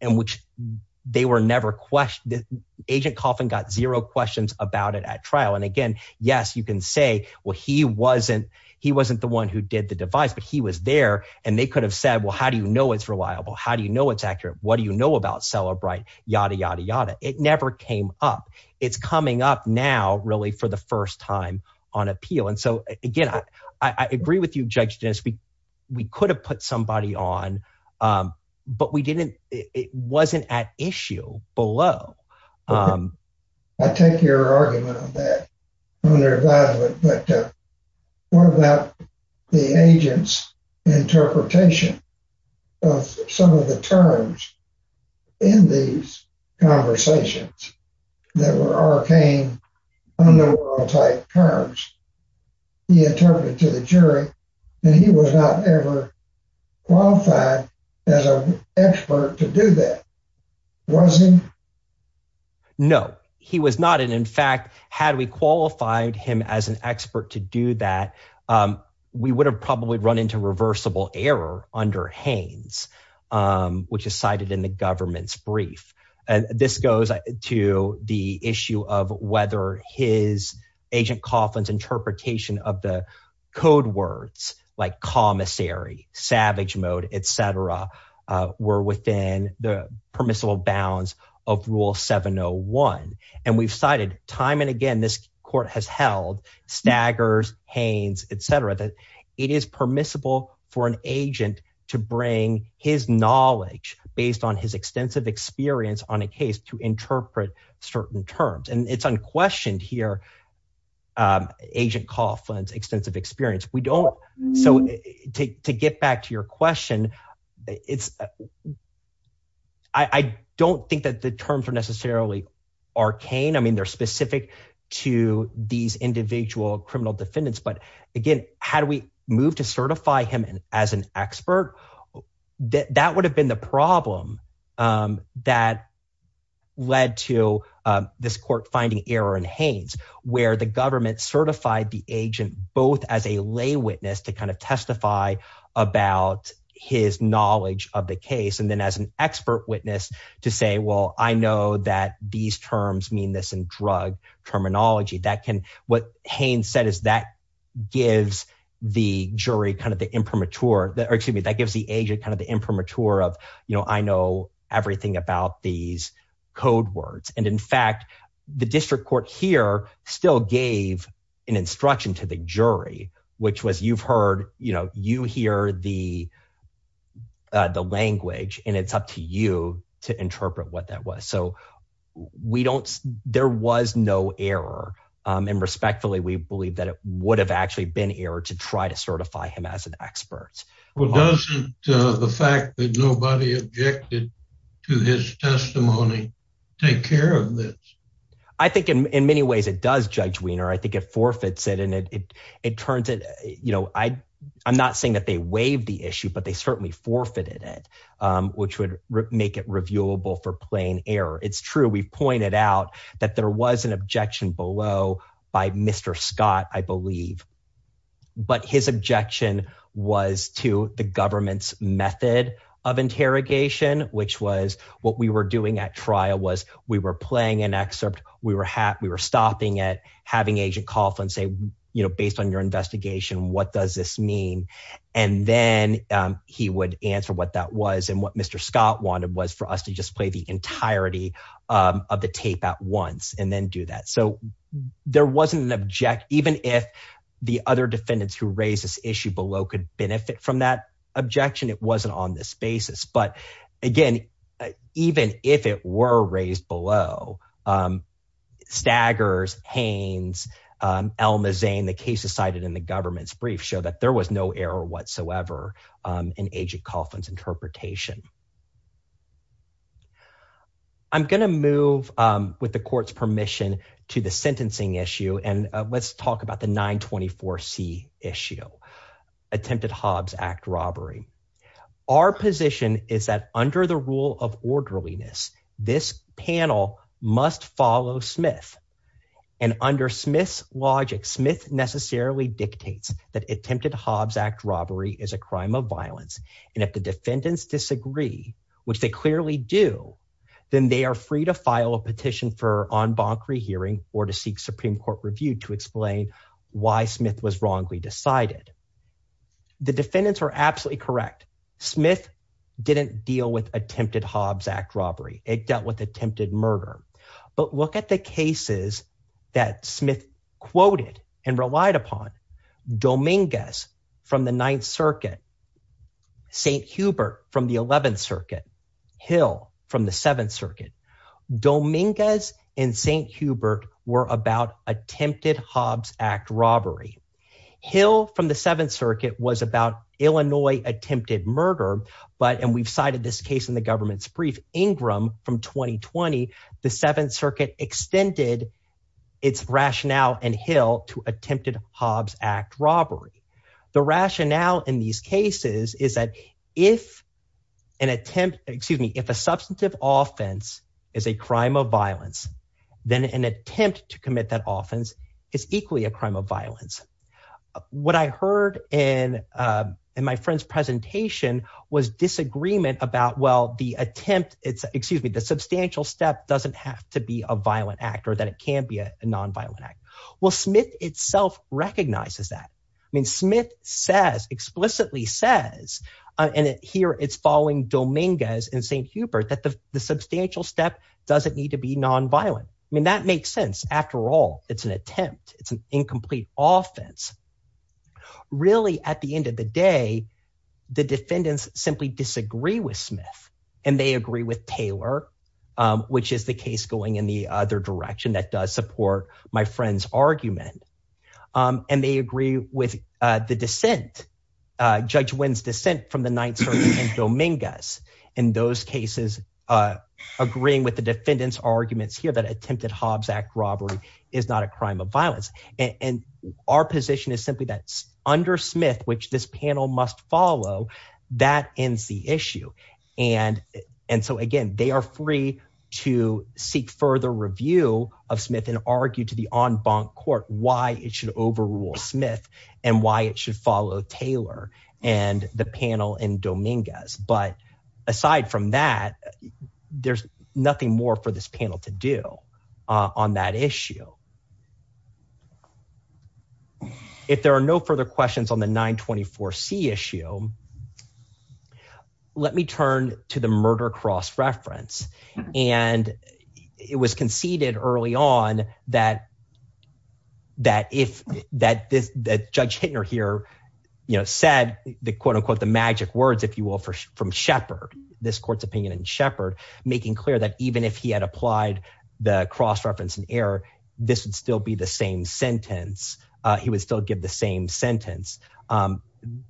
And which they were never – Agent Cawthon got zero questions about it at trial. And again, yes, you can say, well, he wasn't the one who did the device, but he was there, and they could have said, well, how do you know it's reliable? How do you know it's accurate? What do you know about Cellebrite? Yada, yada, yada. It never came up. It's coming up now really for the first time on appeal. And so again, I agree with you, Judge Dis. We could have put somebody on, but we didn't. It wasn't at issue below. I take your argument on that. What about the agent's interpretation of some of the terms in these conversations that were arcane, underworld-type terms? He interpreted to the jury that he was not ever qualified as an expert to do that. Was he? No, he was not. And in fact, had we qualified him as an expert to do that, we would have probably run into reversible error under Haines, which is cited in the government's brief. This goes to the issue of whether his, Agent Coughlin's interpretation of the code words like commissary, savage mode, et cetera, were within the permissible bounds of Rule 701. And we've cited time and again this court has held, Staggers, Haines, et cetera, that it is permissible for an agent to bring his knowledge based on his extensive experience on a case to interpret certain terms. And it's unquestioned here, Agent Coughlin's extensive experience. So to get back to your question, I don't think that the terms are necessarily arcane. I mean they're specific to these individual criminal defendants. But again, had we moved to certify him as an expert, that would have been the problem that led to this court finding error in Haines, where the government certified the agent both as a lay witness to kind of testify about his knowledge of the case. And then as an expert witness to say, well, I know that these terms mean this in drug terminology. What Haines said is that gives the jury kind of the imprimatur, or excuse me, that gives the agent kind of the imprimatur of I know everything about these code words. And in fact, the district court here still gave an instruction to the jury, which was you've heard, you hear the language, and it's up to you to interpret what that was. So there was no error. And respectfully, we believe that it would have actually been error to try to certify him as an expert. Well, doesn't the fact that nobody objected to his testimony take care of this? I think in many ways it does, Judge Wiener. I think it forfeits it, and it turns it – I'm not saying that they waived the issue, but they certainly forfeited it, which would make it reviewable for plain error. It's true. We've pointed out that there was an objection below by Mr. Scott, I believe. But his objection was to the government's method of interrogation, which was what we were doing at trial was we were playing an excerpt. We were stopping it, having Agent Coughlin say, based on your investigation, what does this mean? And then he would answer what that was, and what Mr. Scott wanted was for us to just play the entirety of the tape at once and then do that. So there wasn't an – even if the other defendants who raised this issue below could benefit from that objection, it wasn't on this basis. But again, even if it were raised below, Staggers, Haynes, Elma Zane, the cases cited in the government's brief show that there was no error whatsoever in Agent Coughlin's interpretation. I'm going to move, with the court's permission, to the sentencing issue, and let's talk about the 924C issue, attempted Hobbs Act robbery. Our position is that under the rule of orderliness, this panel must follow Smith. And under Smith's logic, Smith necessarily dictates that attempted Hobbs Act robbery is a crime of violence. And if the defendants disagree, which they clearly do, then they are free to file a petition for en banc rehearing or to seek Supreme Court review to explain why Smith was wrongly decided. The defendants were absolutely correct. Smith didn't deal with attempted Hobbs Act robbery. It dealt with attempted murder. But look at the cases that Smith quoted and relied upon, Dominguez from the 9th Circuit, St. Hubert from the 11th Circuit, Hill from the 7th Circuit. Dominguez and St. Hubert were about attempted Hobbs Act robbery. Hill from the 7th Circuit was about Illinois attempted murder, and we've cited this case in the government's brief. Ingram from 2020, the 7th Circuit extended its rationale in Hill to attempted Hobbs Act robbery. The rationale in these cases is that if an attempt – excuse me – if a substantive offense is a crime of violence, then an attempt to commit that offense is equally a crime of violence. What I heard in my friend's presentation was disagreement about, well, the attempt – excuse me – the substantial step doesn't have to be a violent act or that it can be a nonviolent act. Well, Smith itself recognizes that. I mean Smith says, explicitly says, and here it's following Dominguez and St. Hubert that the substantial step doesn't need to be nonviolent. I mean that makes sense. After all, it's an attempt. It's an incomplete offense. Really, at the end of the day, the defendants simply disagree with Smith, and they agree with Taylor, which is the case going in the other direction that does support my friend's argument. And they agree with the dissent, Judge Wynn's dissent from the 9th Circuit and Dominguez in those cases agreeing with the defendants' arguments here that attempted Hobbs Act robbery is not a crime of violence. And our position is simply that under Smith, which this panel must follow, that ends the issue. And so again, they are free to seek further review of Smith and argue to the en banc court why it should overrule Smith and why it should follow Taylor and the panel and Dominguez. But aside from that, there's nothing more for this panel to do on that issue. If there are no further questions on the 924C issue, let me turn to the murder cross-reference. And it was conceded early on that Judge Hittner here said the quote-unquote magic words, if you will, from Shepard, this court's opinion on Shepard, making clear that even if he had applied the cross-reference in error, this would still be the same sentence. He would still give the same sentence.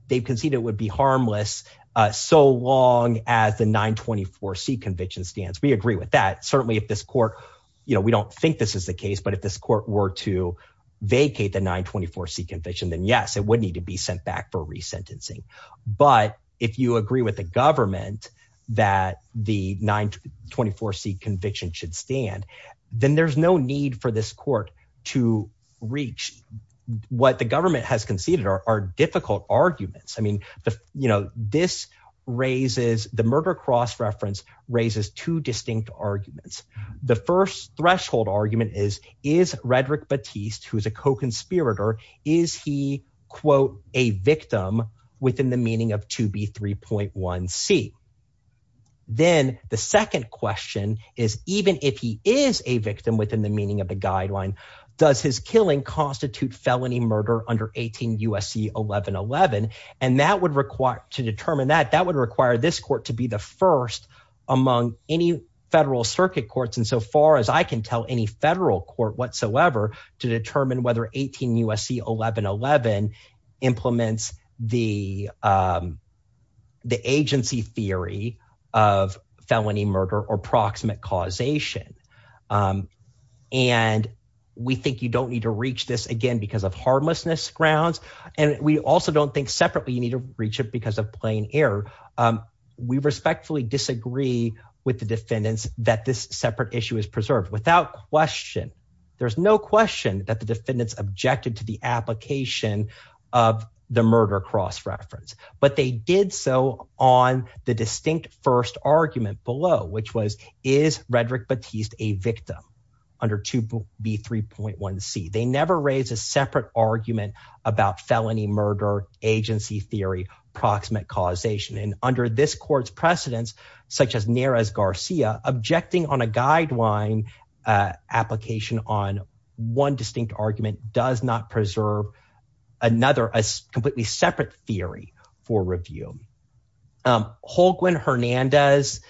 They conceded it would be harmless so long as the 924C conviction stands. We agree with that. Certainly, if this court – we don't think this is the case, but if this court were to vacate the 924C conviction, then yes, it would need to be sent back for resentencing. But if you agree with the government that the 924C conviction should stand, then there's no need for this court to reach what the government has conceded are difficult arguments. I mean this raises – the murder cross-reference raises two distinct arguments. The first threshold argument is, is Redrick Batiste, who is a co-conspirator, is he, quote, a victim within the meaning of 2B3.1C? Then the second question is even if he is a victim within the meaning of the guideline, does his killing constitute felony murder under 18 U.S.C. 1111? And that would require – to determine that, that would require this court to be the first among any federal circuit courts insofar as I can tell any federal court whatsoever to determine whether 18 U.S.C. 1111 implements the agency theory of felony murder or proximate causation. And we think you don't need to reach this again because of harmlessness grounds, and we also don't think separately you need to reach it because of plain error. We respectfully disagree with the defendants that this separate issue is preserved without question. There's no question that the defendants objected to the application of the murder cross-reference. But they did so on the distinct first argument below, which was, is Redrick Batiste a victim under 2B3.1C? They never raised a separate argument about felony murder, agency theory, proximate causation. And under this court's precedence, such as Nerez-Garcia, objecting on a guideline application on one distinct argument does not preserve another, a completely separate theory for review. Holguin-Hernandez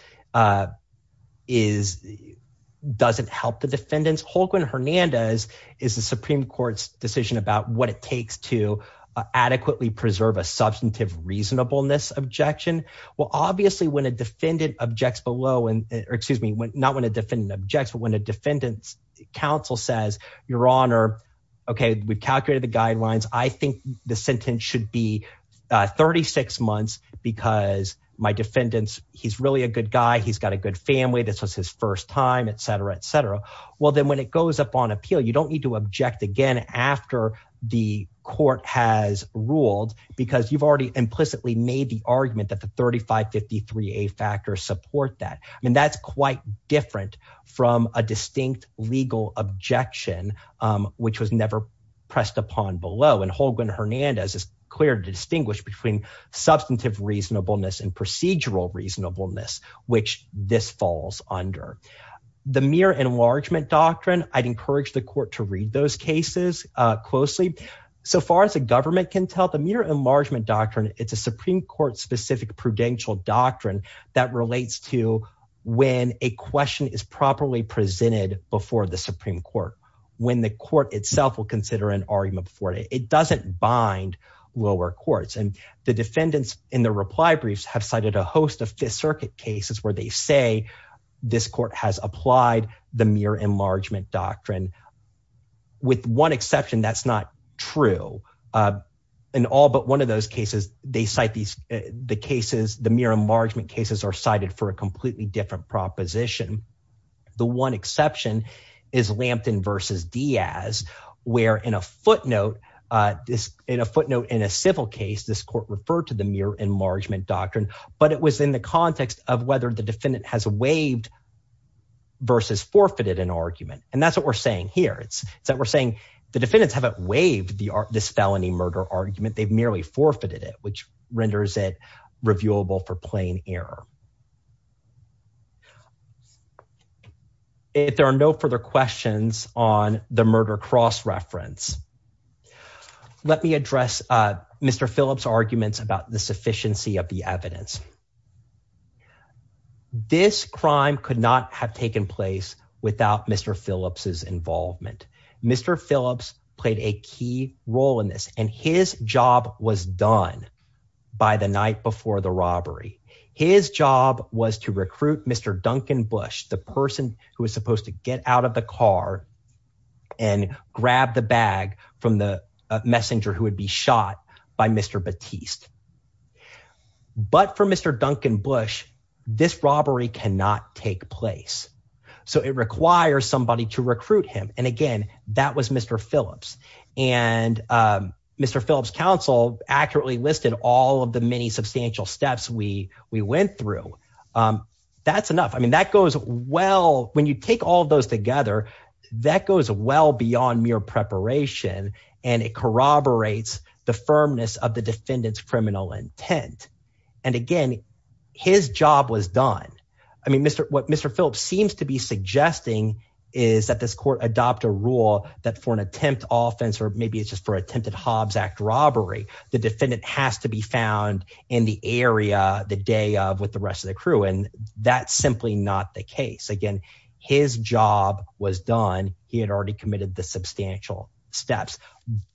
doesn't help the defendants. Holguin-Hernandez is the Supreme Court's decision about what it takes to adequately preserve a substantive reasonableness objection. Well, obviously, when a defendant objects below – or excuse me, not when a defendant objects, but when a defendant's counsel says, your honor, okay, we calculated the guidelines. I think the sentence should be 36 months because my defendant, he's really a good guy. He's got a good family. This was his first time, etc., etc. Well, then when it goes up on appeal, you don't need to object again after the court has ruled because you've already implicitly made the argument that the 3553A factors support that. I mean that's quite different from a distinct legal objection, which was never pressed upon below. And Holguin-Hernandez is clear to distinguish between substantive reasonableness and procedural reasonableness, which this falls under. The mere enlargement doctrine, I'd encourage the court to read those cases closely. So far as the government can tell, the mere enlargement doctrine, it's a Supreme Court-specific prudential doctrine that relates to when a question is properly presented before the Supreme Court, when the court itself will consider an argument for it. It doesn't bind lower courts, and the defendants in the reply briefs have cited a host of circuit cases where they say this court has applied the mere enlargement doctrine. With one exception, that's not true. In all but one of those cases, they cite the cases – the mere enlargement cases are cited for a completely different proposition. The one exception is Lampton v. Diaz, where in a footnote in a civil case, this court referred to the mere enlargement doctrine. But it was in the context of whether the defendant has waived versus forfeited an argument, and that's what we're saying here. It's that we're saying the defendants haven't waived this felony murder argument. They've merely forfeited it, which renders it reviewable for plain error. If there are no further questions on the murder cross-reference, let me address Mr. Phillips' arguments about the sufficiency of the evidence. This crime could not have taken place without Mr. Phillips' involvement. Mr. Phillips played a key role in this, and his job was done by the night before the robbery. His job was to recruit Mr. Duncan Bush, the person who was supposed to get out of the car and grab the bag from the messenger who would be shot by Mr. Batiste. But for Mr. Duncan Bush, this robbery cannot take place, so it requires somebody to recruit him, and again, that was Mr. Phillips. And Mr. Phillips' counsel accurately listed all of the many substantial steps we went through. That's enough. I mean that goes well – when you take all those together, that goes well beyond mere preparation, and it corroborates the firmness of the defendant's criminal intent. And again, his job was done. I mean what Mr. Phillips seems to be suggesting is that this court adopt a rule that for an attempted offense, or maybe it's just for an attempted Hobbs Act robbery, the defendant has to be found in the area the day of with the rest of the crew, and that's simply not the case. Again, his job was done. He had already committed the substantial steps.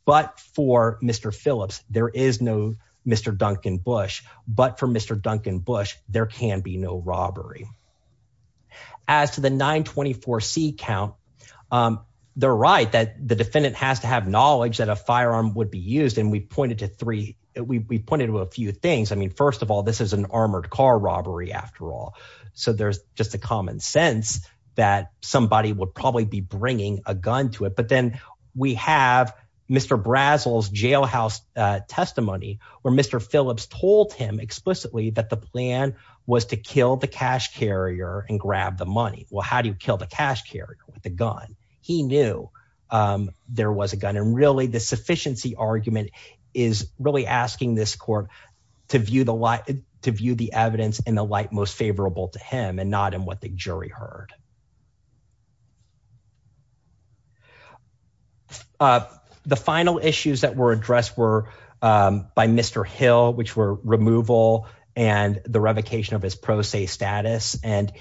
But for Mr. Phillips, there is no Mr. Duncan Bush, but for Mr. Duncan Bush, there can be no robbery. As to the 924C count, they're right that the defendant has to have knowledge that a firearm would be used, and we pointed to three – we pointed to a few things. I mean first of all, this is an armored car robbery after all, so there's just a common sense that somebody would probably be bringing a gun to it. But then we have Mr. Brazel's jailhouse testimony where Mr. Phillips told him explicitly that the plan was to kill the cash carrier and grab the money. Well, how do you kill the cash carrier with a gun? He knew there was a gun, and really the sufficiency argument is really asking this court to view the evidence in the light most favorable to him and not in what the jury heard. The final issues that were addressed were by Mr. Hill, which were removal and the revocation of his pro se status. And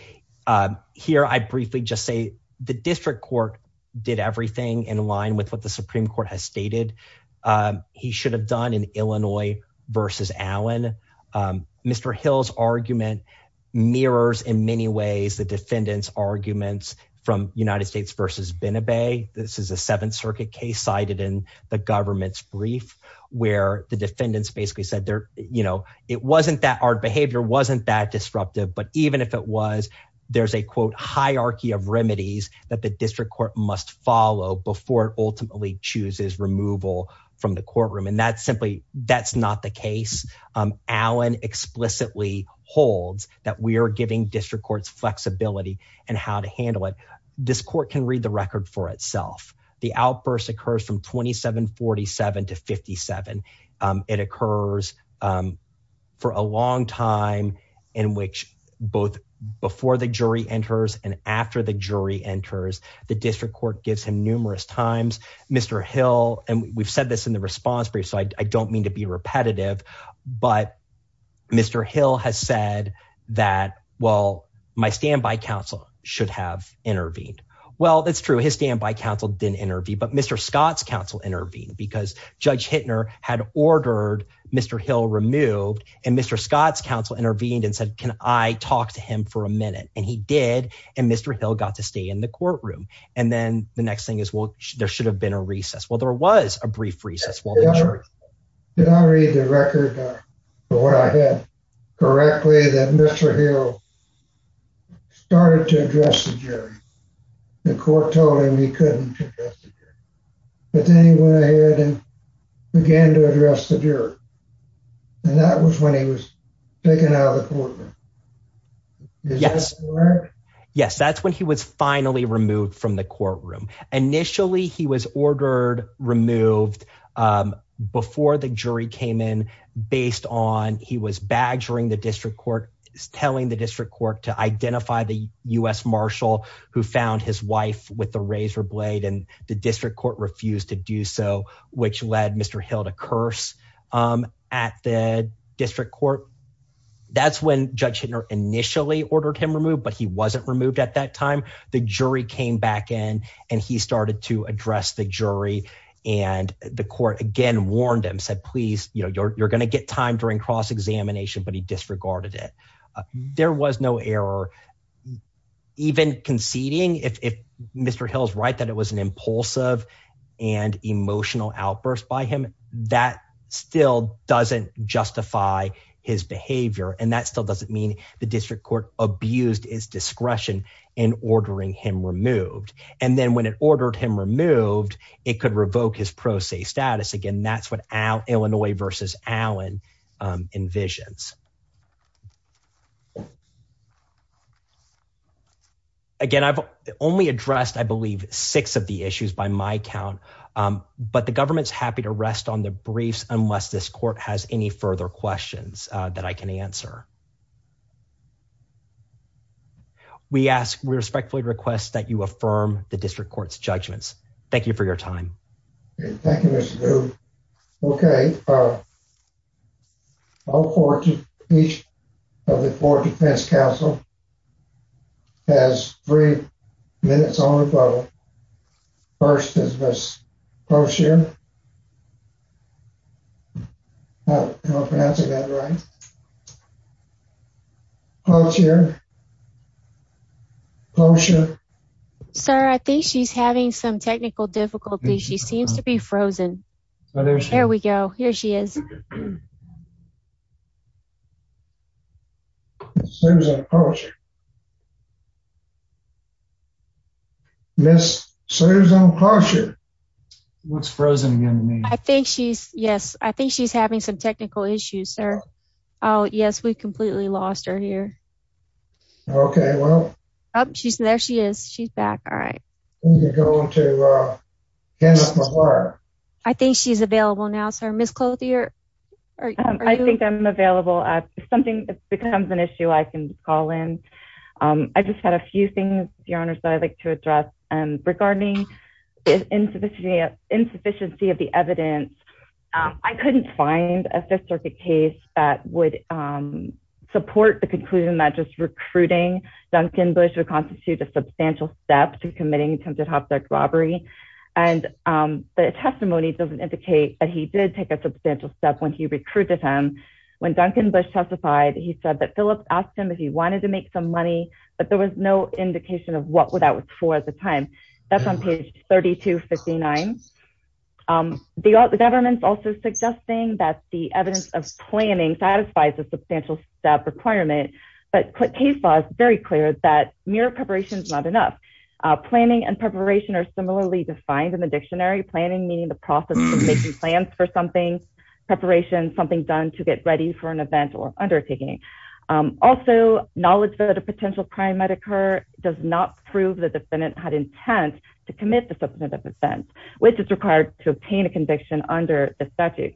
here I briefly just say the district court did everything in line with what the Supreme Court has stated he should have done in Illinois v. Allen. Mr. Hill's argument mirrors in many ways the defendant's arguments from United States v. Benebay. This is a Seventh Circuit case cited in the government's brief where the defendants basically said it wasn't that – our behavior wasn't that disruptive. But even if it was, there's a, quote, hierarchy of remedies that the district court must follow before it ultimately chooses removal from the courtroom, and that's simply – that's not the case. Allen explicitly holds that we are giving district courts flexibility in how to handle it. This court can read the record for itself. The outburst occurs from 2747 to 57. It occurs for a long time in which both before the jury enters and after the jury enters, the district court gives him numerous times. And we've said this in the response brief, so I don't mean to be repetitive, but Mr. Hill has said that, well, my standby counsel should have intervened. Well, that's true. His standby counsel didn't intervene, but Mr. Scott's counsel intervened because Judge Hittner had ordered Mr. Hill removed, and Mr. Scott's counsel intervened and said, can I talk to him for a minute? And he did, and Mr. Hill got to stay in the courtroom. And then the next thing is, well, there should have been a recess. Well, there was a brief recess. Did I read the record for what I had correctly that Mr. Hill started to address the jury, and the court told him he couldn't address the jury? But then he went ahead and began to address the jury, and that was when he was taken out of the courtroom. Is that correct? Yes, that's when he was finally removed from the courtroom. Initially, he was ordered removed before the jury came in based on he was badgering the district court, telling the district court to identify the U.S. marshal who found his wife with the razor blade, and the district court refused to do so, which led Mr. Hill to curse at the district court. That's when Judge Hittner initially ordered him removed, but he wasn't removed at that time. The jury came back in, and he started to address the jury, and the court, again, warned him, said, please, you're going to get time for a cross-examination, but he disregarded it. There was no error. Even conceding, if Mr. Hill is right that it was an impulsive and emotional outburst by him, that still doesn't justify his behavior, and that still doesn't mean the district court abused his discretion in ordering him removed. And then when it ordered him removed, it could revoke his pro se status. Again, that's what Illinois v. Allen envisions. Again, I've only addressed, I believe, six of the issues by my count, but the government's happy to rest on the brace unless this court has any further questions that I can answer. We respectfully request that you affirm the district court's judgments. Thank you for your time. Thank you, Mr. Bloom. Okay. All four of you, each of the four defense counsel has three minutes on the phone. First is Ms. Closier. Closier. Closier. Sir, I think she's having some technical difficulties. She seems to be frozen. There we go. Here she is. Ms. Closier. What's frozen? Yes, I think she's having some technical issues, sir. Oh, yes, we completely lost her here. Okay. There she is. She's back. All right. I think she's available now, sir. Ms. Closier. I think I'm available. If something becomes an issue, I can call in. I just had a few things, Your Honors, that I'd like to address. Okay. Thank you, Mr. Bloom. Regarding insufficiency of the evidence, I couldn't find a fifth-circuit case that would support the conclusion that just recruiting Duncan Bush would constitute a substantial step to committing attempted hostage robbery. And the testimony doesn't indicate that he did take a substantial step when he recruited him. When Duncan Bush testified, he said that Phillips asked him if he wanted to make some money, but there was no indication of what that was for at the time. That's on page 3259. The government's also suggesting that the evidence of planning satisfies the substantial step requirement, but case law is very clear that mere preparation is not enough. Planning and preparation are similarly defined in the dictionary. Planning meaning the process of making plans for something. Preparation, something done to get ready for an event or undertaking. Also, knowledge that a potential crime might occur does not prove that the defendant had intent to commit the subsequent offense, which is required to obtain a conviction under the statute.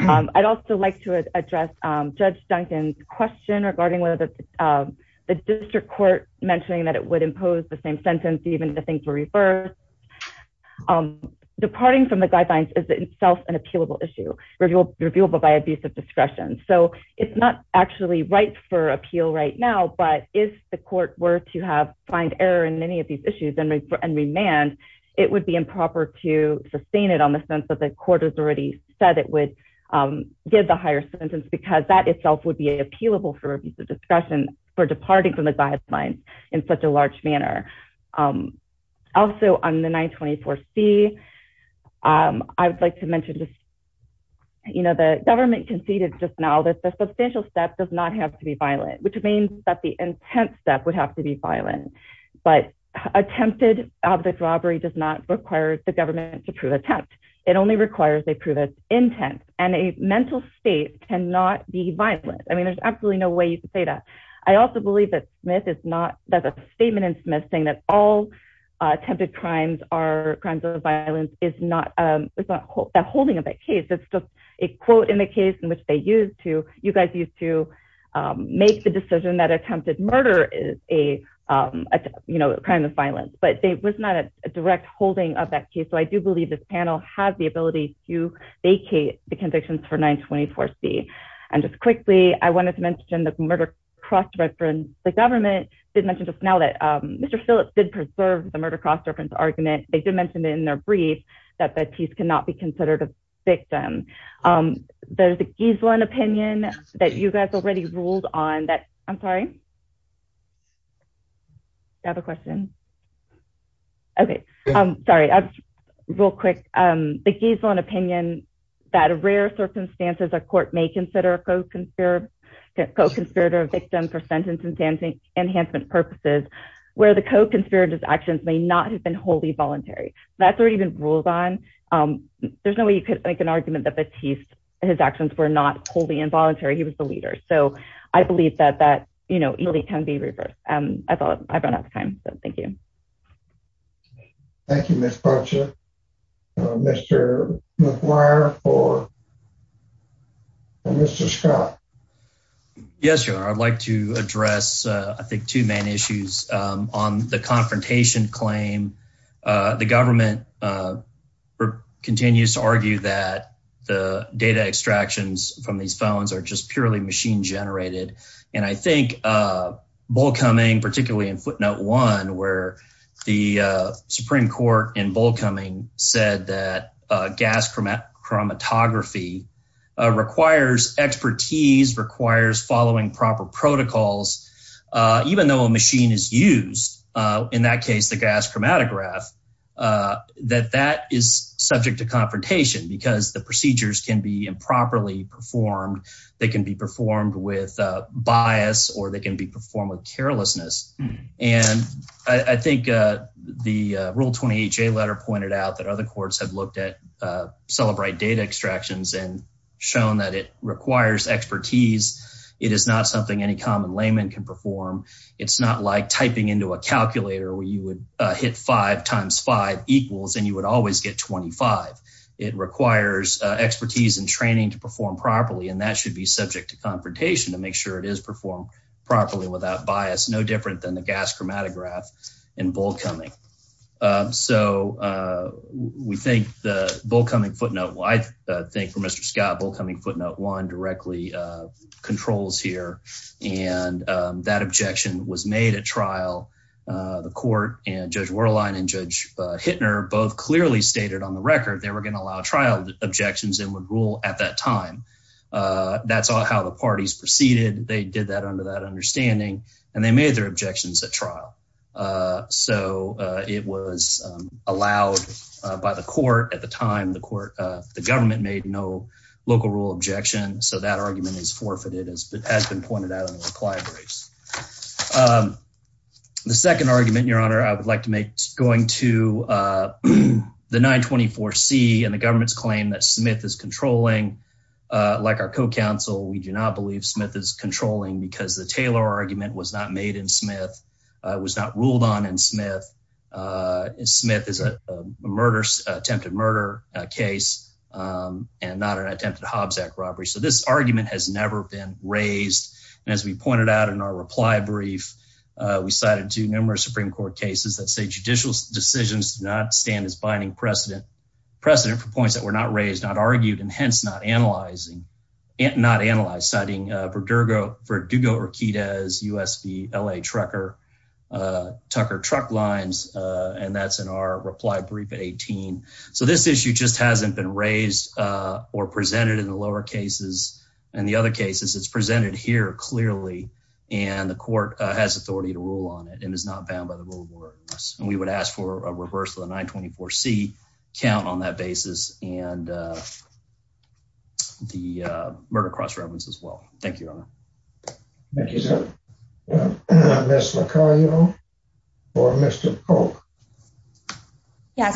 I'd also like to address Judge Duncan's question regarding whether the district court mentioning that it would impose the same sentence even if the things were reversed. Departing from the guidelines is itself an appealable issue, reviewable by abuse of discretion. It's not actually ripe for appeal right now, but if the court were to find error in any of these issues and remand, it would be improper to sustain it on the sense that the court has already said it would give the higher sentence, because that itself would be appealable for abuse of discretion for departing from the guidelines in such a large manner. Also, on the 924C, I'd like to mention that the government conceded just now that the substantial step does not have to be violent, which means that the intent step would have to be violent. But attempted object robbery does not require the government to prove intent. It only requires they prove its intent, and a mental state cannot be violent. I mean, there's absolutely no way to say that. I also believe that the statement in Smith saying that all attempted crimes are crimes of violence is not a holding of that case. It's just a quote in the case in which you guys used to make the decision that attempted murder is a crime of violence. But it was not a direct holding of that case, so I do believe this panel has the ability to vacate the convictions for 924C. And just quickly, I wanted to mention that the government did mention just now that Mr. Phillips did preserve the murder cross-reference argument. They did mention it in their brief that the case cannot be considered a victim. There's a Giseline opinion that you guys already ruled on. I'm sorry? Do you have a question? Okay. Sorry. Real quick. The Giseline opinion that in rare circumstances a court may consider a co-conspirator a victim for sentence-enhancement purposes where the co-conspirator's actions may not have been wholly voluntary. That's already been ruled on. There's no way you could make an argument that Batiste and his actions were not wholly involuntary. He was the leader. So I believe that that, you know, can be reversed. I've run out of time, so thank you. Thank you, Ms. Crutcher. Mr. McGuire for Mr. Scott. Yes, sir. I'd like to address, I think, two main issues. On the confrontation claim, the government continues to argue that the data extractions from these felons are just purely machine-generated. And I think Bollcoming, particularly in footnote one, where the Supreme Court in Bollcoming said that gas chromatography requires expertise, requires following proper protocols, even though a machine is used, in that case, the gas chromatograph, that that is subject to confrontation. Because the procedures can be improperly performed. They can be performed with bias or they can be performed with carelessness. And I think the Rule 20HA letter pointed out that other courts have looked at celebrite data extractions and shown that it requires expertise. It is not something any common layman can perform. It's not like typing into a calculator where you would hit five times five equals and you would always get 25. It requires expertise and training to perform properly. And that should be subject to confrontation to make sure it is performed properly without bias. No different than the gas chromatograph in Bollcoming. So we think the Bollcoming footnote, I think for Mr. Scott, Bollcoming footnote one directly controls here. And that objection was made at trial. The court and Judge Werlein and Judge Hittner both clearly stated on the record they were going to allow trial objections and would rule at that time. That's how the parties proceeded. They did that under that understanding and they made their objections at trial. So it was allowed by the court at the time the court, the government made no local rule objection. So that argument is forfeited. It has been pointed out in the required briefs. The second argument, Your Honor, I would like to make going to the 924C and the government's claim that Smith is controlling. Like our co-counsel, we do not believe Smith is controlling because the Taylor argument was not made in Smith. It was not ruled on in Smith. Smith is a attempted murder case and not an attempted Hobbs Act robbery. So this argument has never been raised. And as we pointed out in our reply brief, we cited two numerous Supreme Court cases that say judicial decisions do not stand as binding precedent. Precedent for points that were not raised, not argued and hence not analyzed. Citing Verdugo-Riquidez, U.S.D., L.A. Trucker, Tucker Truck Lines. And that's in our reply brief at 18. So this issue just hasn't been raised or presented in the lower cases. In the other cases, it's presented here clearly and the court has authority to rule on it and is not bound by the rule of law. And we would ask for a reversal of 924C count on that basis and the murder cross-reference as well. Thank you, Your Honor. Thank you, sir. Yeah,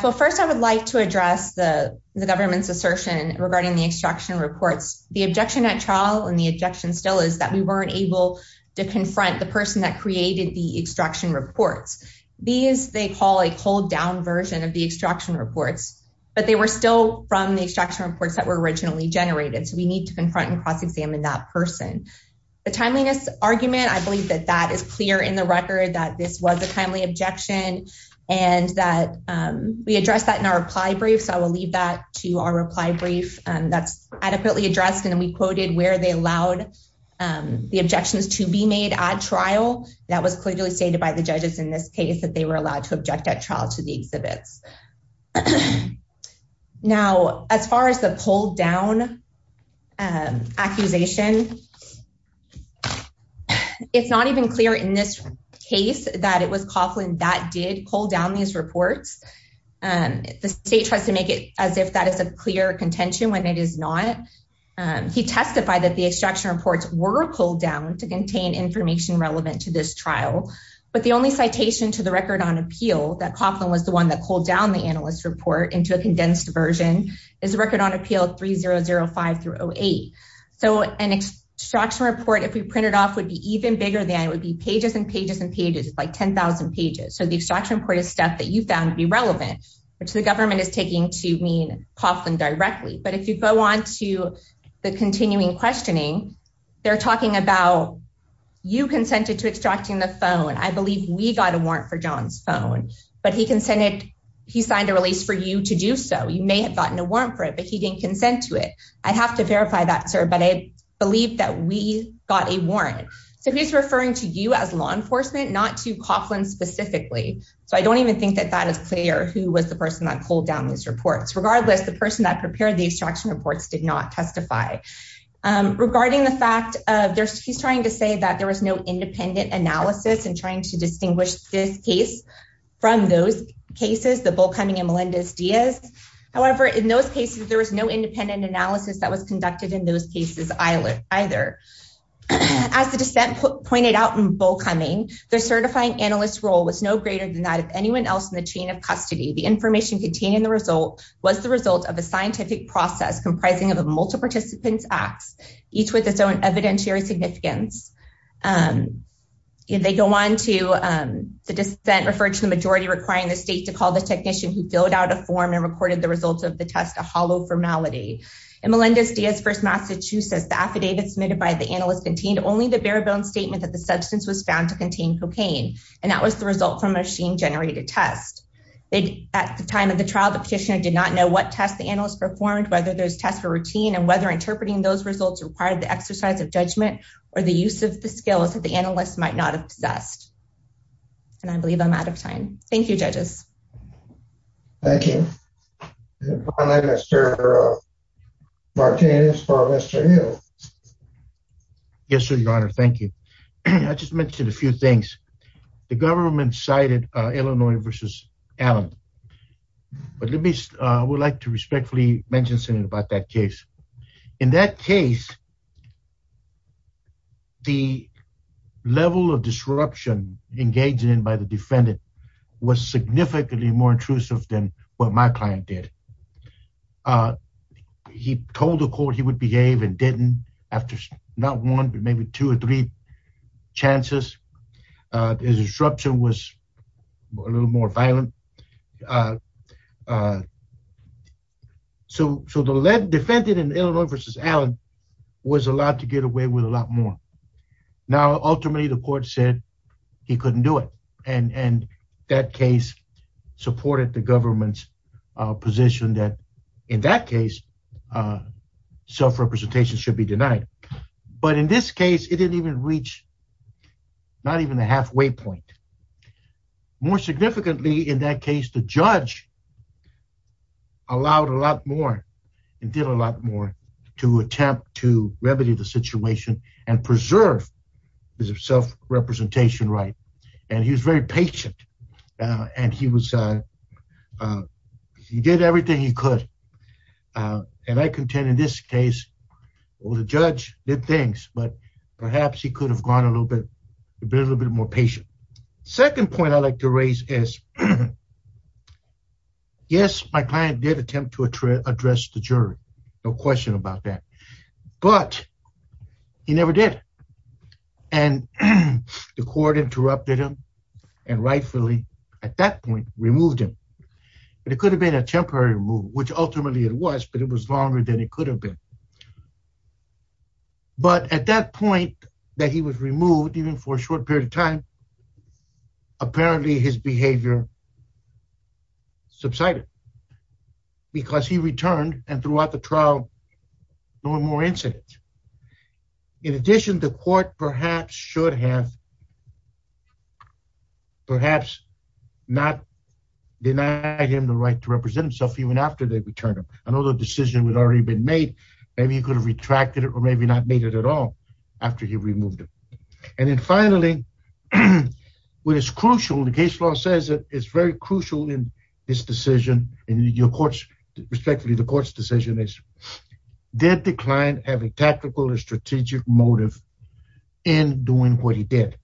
well, first I would like to address the government's assertion regarding the extraction reports. The objection at trial and the objection still is that we weren't able to confront the person that created the extraction report. These they call a pulled-down version of the extraction report. But they were still from the extraction reports that were originally generated. We need to confront and cross-examine that person. The timeliness argument, I believe that that is clear in the record that this was a timely objection. And that we addressed that in our reply brief. I will leave that to our reply brief. That's adequately addressed. And we quoted where they allowed the objections to be made at trial. That was clearly stated by the judges in this case that they were allowed to object at trial to the exhibit. Now, as far as the pulled-down accusation, it's not even clear in this case that it was Coughlin that did pull down his report. The state tried to make it as if that is a clear contention when it is not. He testified that the extraction reports were pulled down to contain information relevant to this trial. But the only citation to the record on appeal that Coughlin was the one that pulled down the analyst report into a condensed version is the record on appeal 3005-08. So an extraction report, if you print it off, would be even bigger than it would be pages and pages and pages. It's like 10,000 pages. So the extraction report is stuff that you found to be relevant, which the government is taking to mean Coughlin directly. But if you go on to the continuing questioning, they're talking about, you consented to extracting the phone. I believe we got a warrant for John's phone. But he consented, he signed a release for you to do so. You may have gotten a warrant for it, but he didn't consent to it. I have to verify that, sir, but I believe that we got a warrant. So he's referring to you as law enforcement, not to Coughlin specifically. So I don't even think that that is clear who was the person that pulled down those reports. Regardless, the person that prepared the extraction reports did not testify. Regarding the fact of, she's trying to say that there was no independent analysis in trying to distinguish this case from those cases, the Bull Cumming and Melendez-Diaz. However, in those cases, there was no independent analysis that was conducted in those cases either. As the dissent pointed out in Bull Cumming, the certifying analyst's role was no greater than that of anyone else in the chain of custody. The information contained in the results was the result of a scientific process comprising of a multi-participant act, each with its own evidentiary significance. They go on to, the dissent referred to the majority requiring the state to call the technician who filled out a form and recorded the results of the test a hollow formality. In Melendez-Diaz versus Massachusetts, the affidavit submitted by the analyst contained only the bare-bones statement that the substance was found to contain cocaine. And that was the result from a machine-generated test. At the time of the trial, the petitioner did not know what test the analyst performed, whether those tests were routine, and whether interpreting those results required the exercise of judgment or the use of the skill, as the analyst might not have suggested. And I believe I'm out of time. Thank you, judges. Thank you. Finally, Mr. Martinez for Mr. Hill. Yes, Your Honor, thank you. I just mentioned a few things. The government cited Illinois versus Allen. But let me, I would like to respectfully mention something about that case. In that case, the level of disruption engaged in by the defendant was significantly more intrusive than what my client did. He told the court he would behave and didn't after not one, but maybe two or three chances. His instruction was a little more violent. So the defendant in Illinois versus Allen was allowed to get away with a lot more. Now, ultimately, the court said he couldn't do it. And that case supported the government's position that in that case, self-representation should be denied. But in this case, it didn't even reach, not even a halfway point. More significantly, in that case, the judge allowed a lot more and did a lot more to attempt to remedy the situation and preserve his self-representation right. And he was very patient and he did everything he could. And I contend in this case, the judge did things, but perhaps he could have gone a little bit more patient. Second point I'd like to raise is, yes, my client did attempt to address the jury. No question about that. But he never did. And the court interrupted him and rightfully, at that point, removed him. But it could have been a temporary removal, which ultimately it was, but it was longer than it could have been. But at that point that he was removed, even for a short period of time, apparently his behavior subsided. Because he returned and throughout the trial, no more incidents. In addition, the court perhaps should have perhaps not denied him the right to represent himself even after they returned him. Another decision had already been made. Maybe he could have retracted it or maybe not made it at all after he removed him. And then finally, what is crucial, the case law says that it's very crucial in this decision. Respectfully, the court's decision is, did the client have a tactical or strategic motive in doing what he did?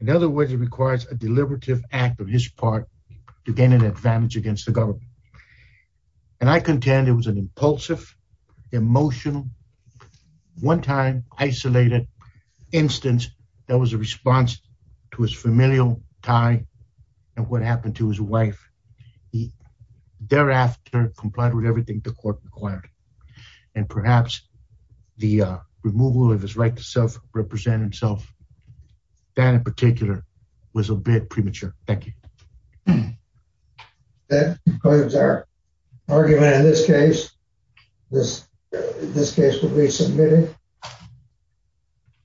In other words, it requires a deliberative act of his part to gain an advantage against the government. And I contend it was an impulsive, emotional, one time isolated instance that was a response to his familial tie and what happened to his wife. He thereafter complied with everything the court required. And perhaps the removal of his right to self-represent himself, that in particular, was a bit premature. Thank you. That concludes our argument in this case. This case will be submitted.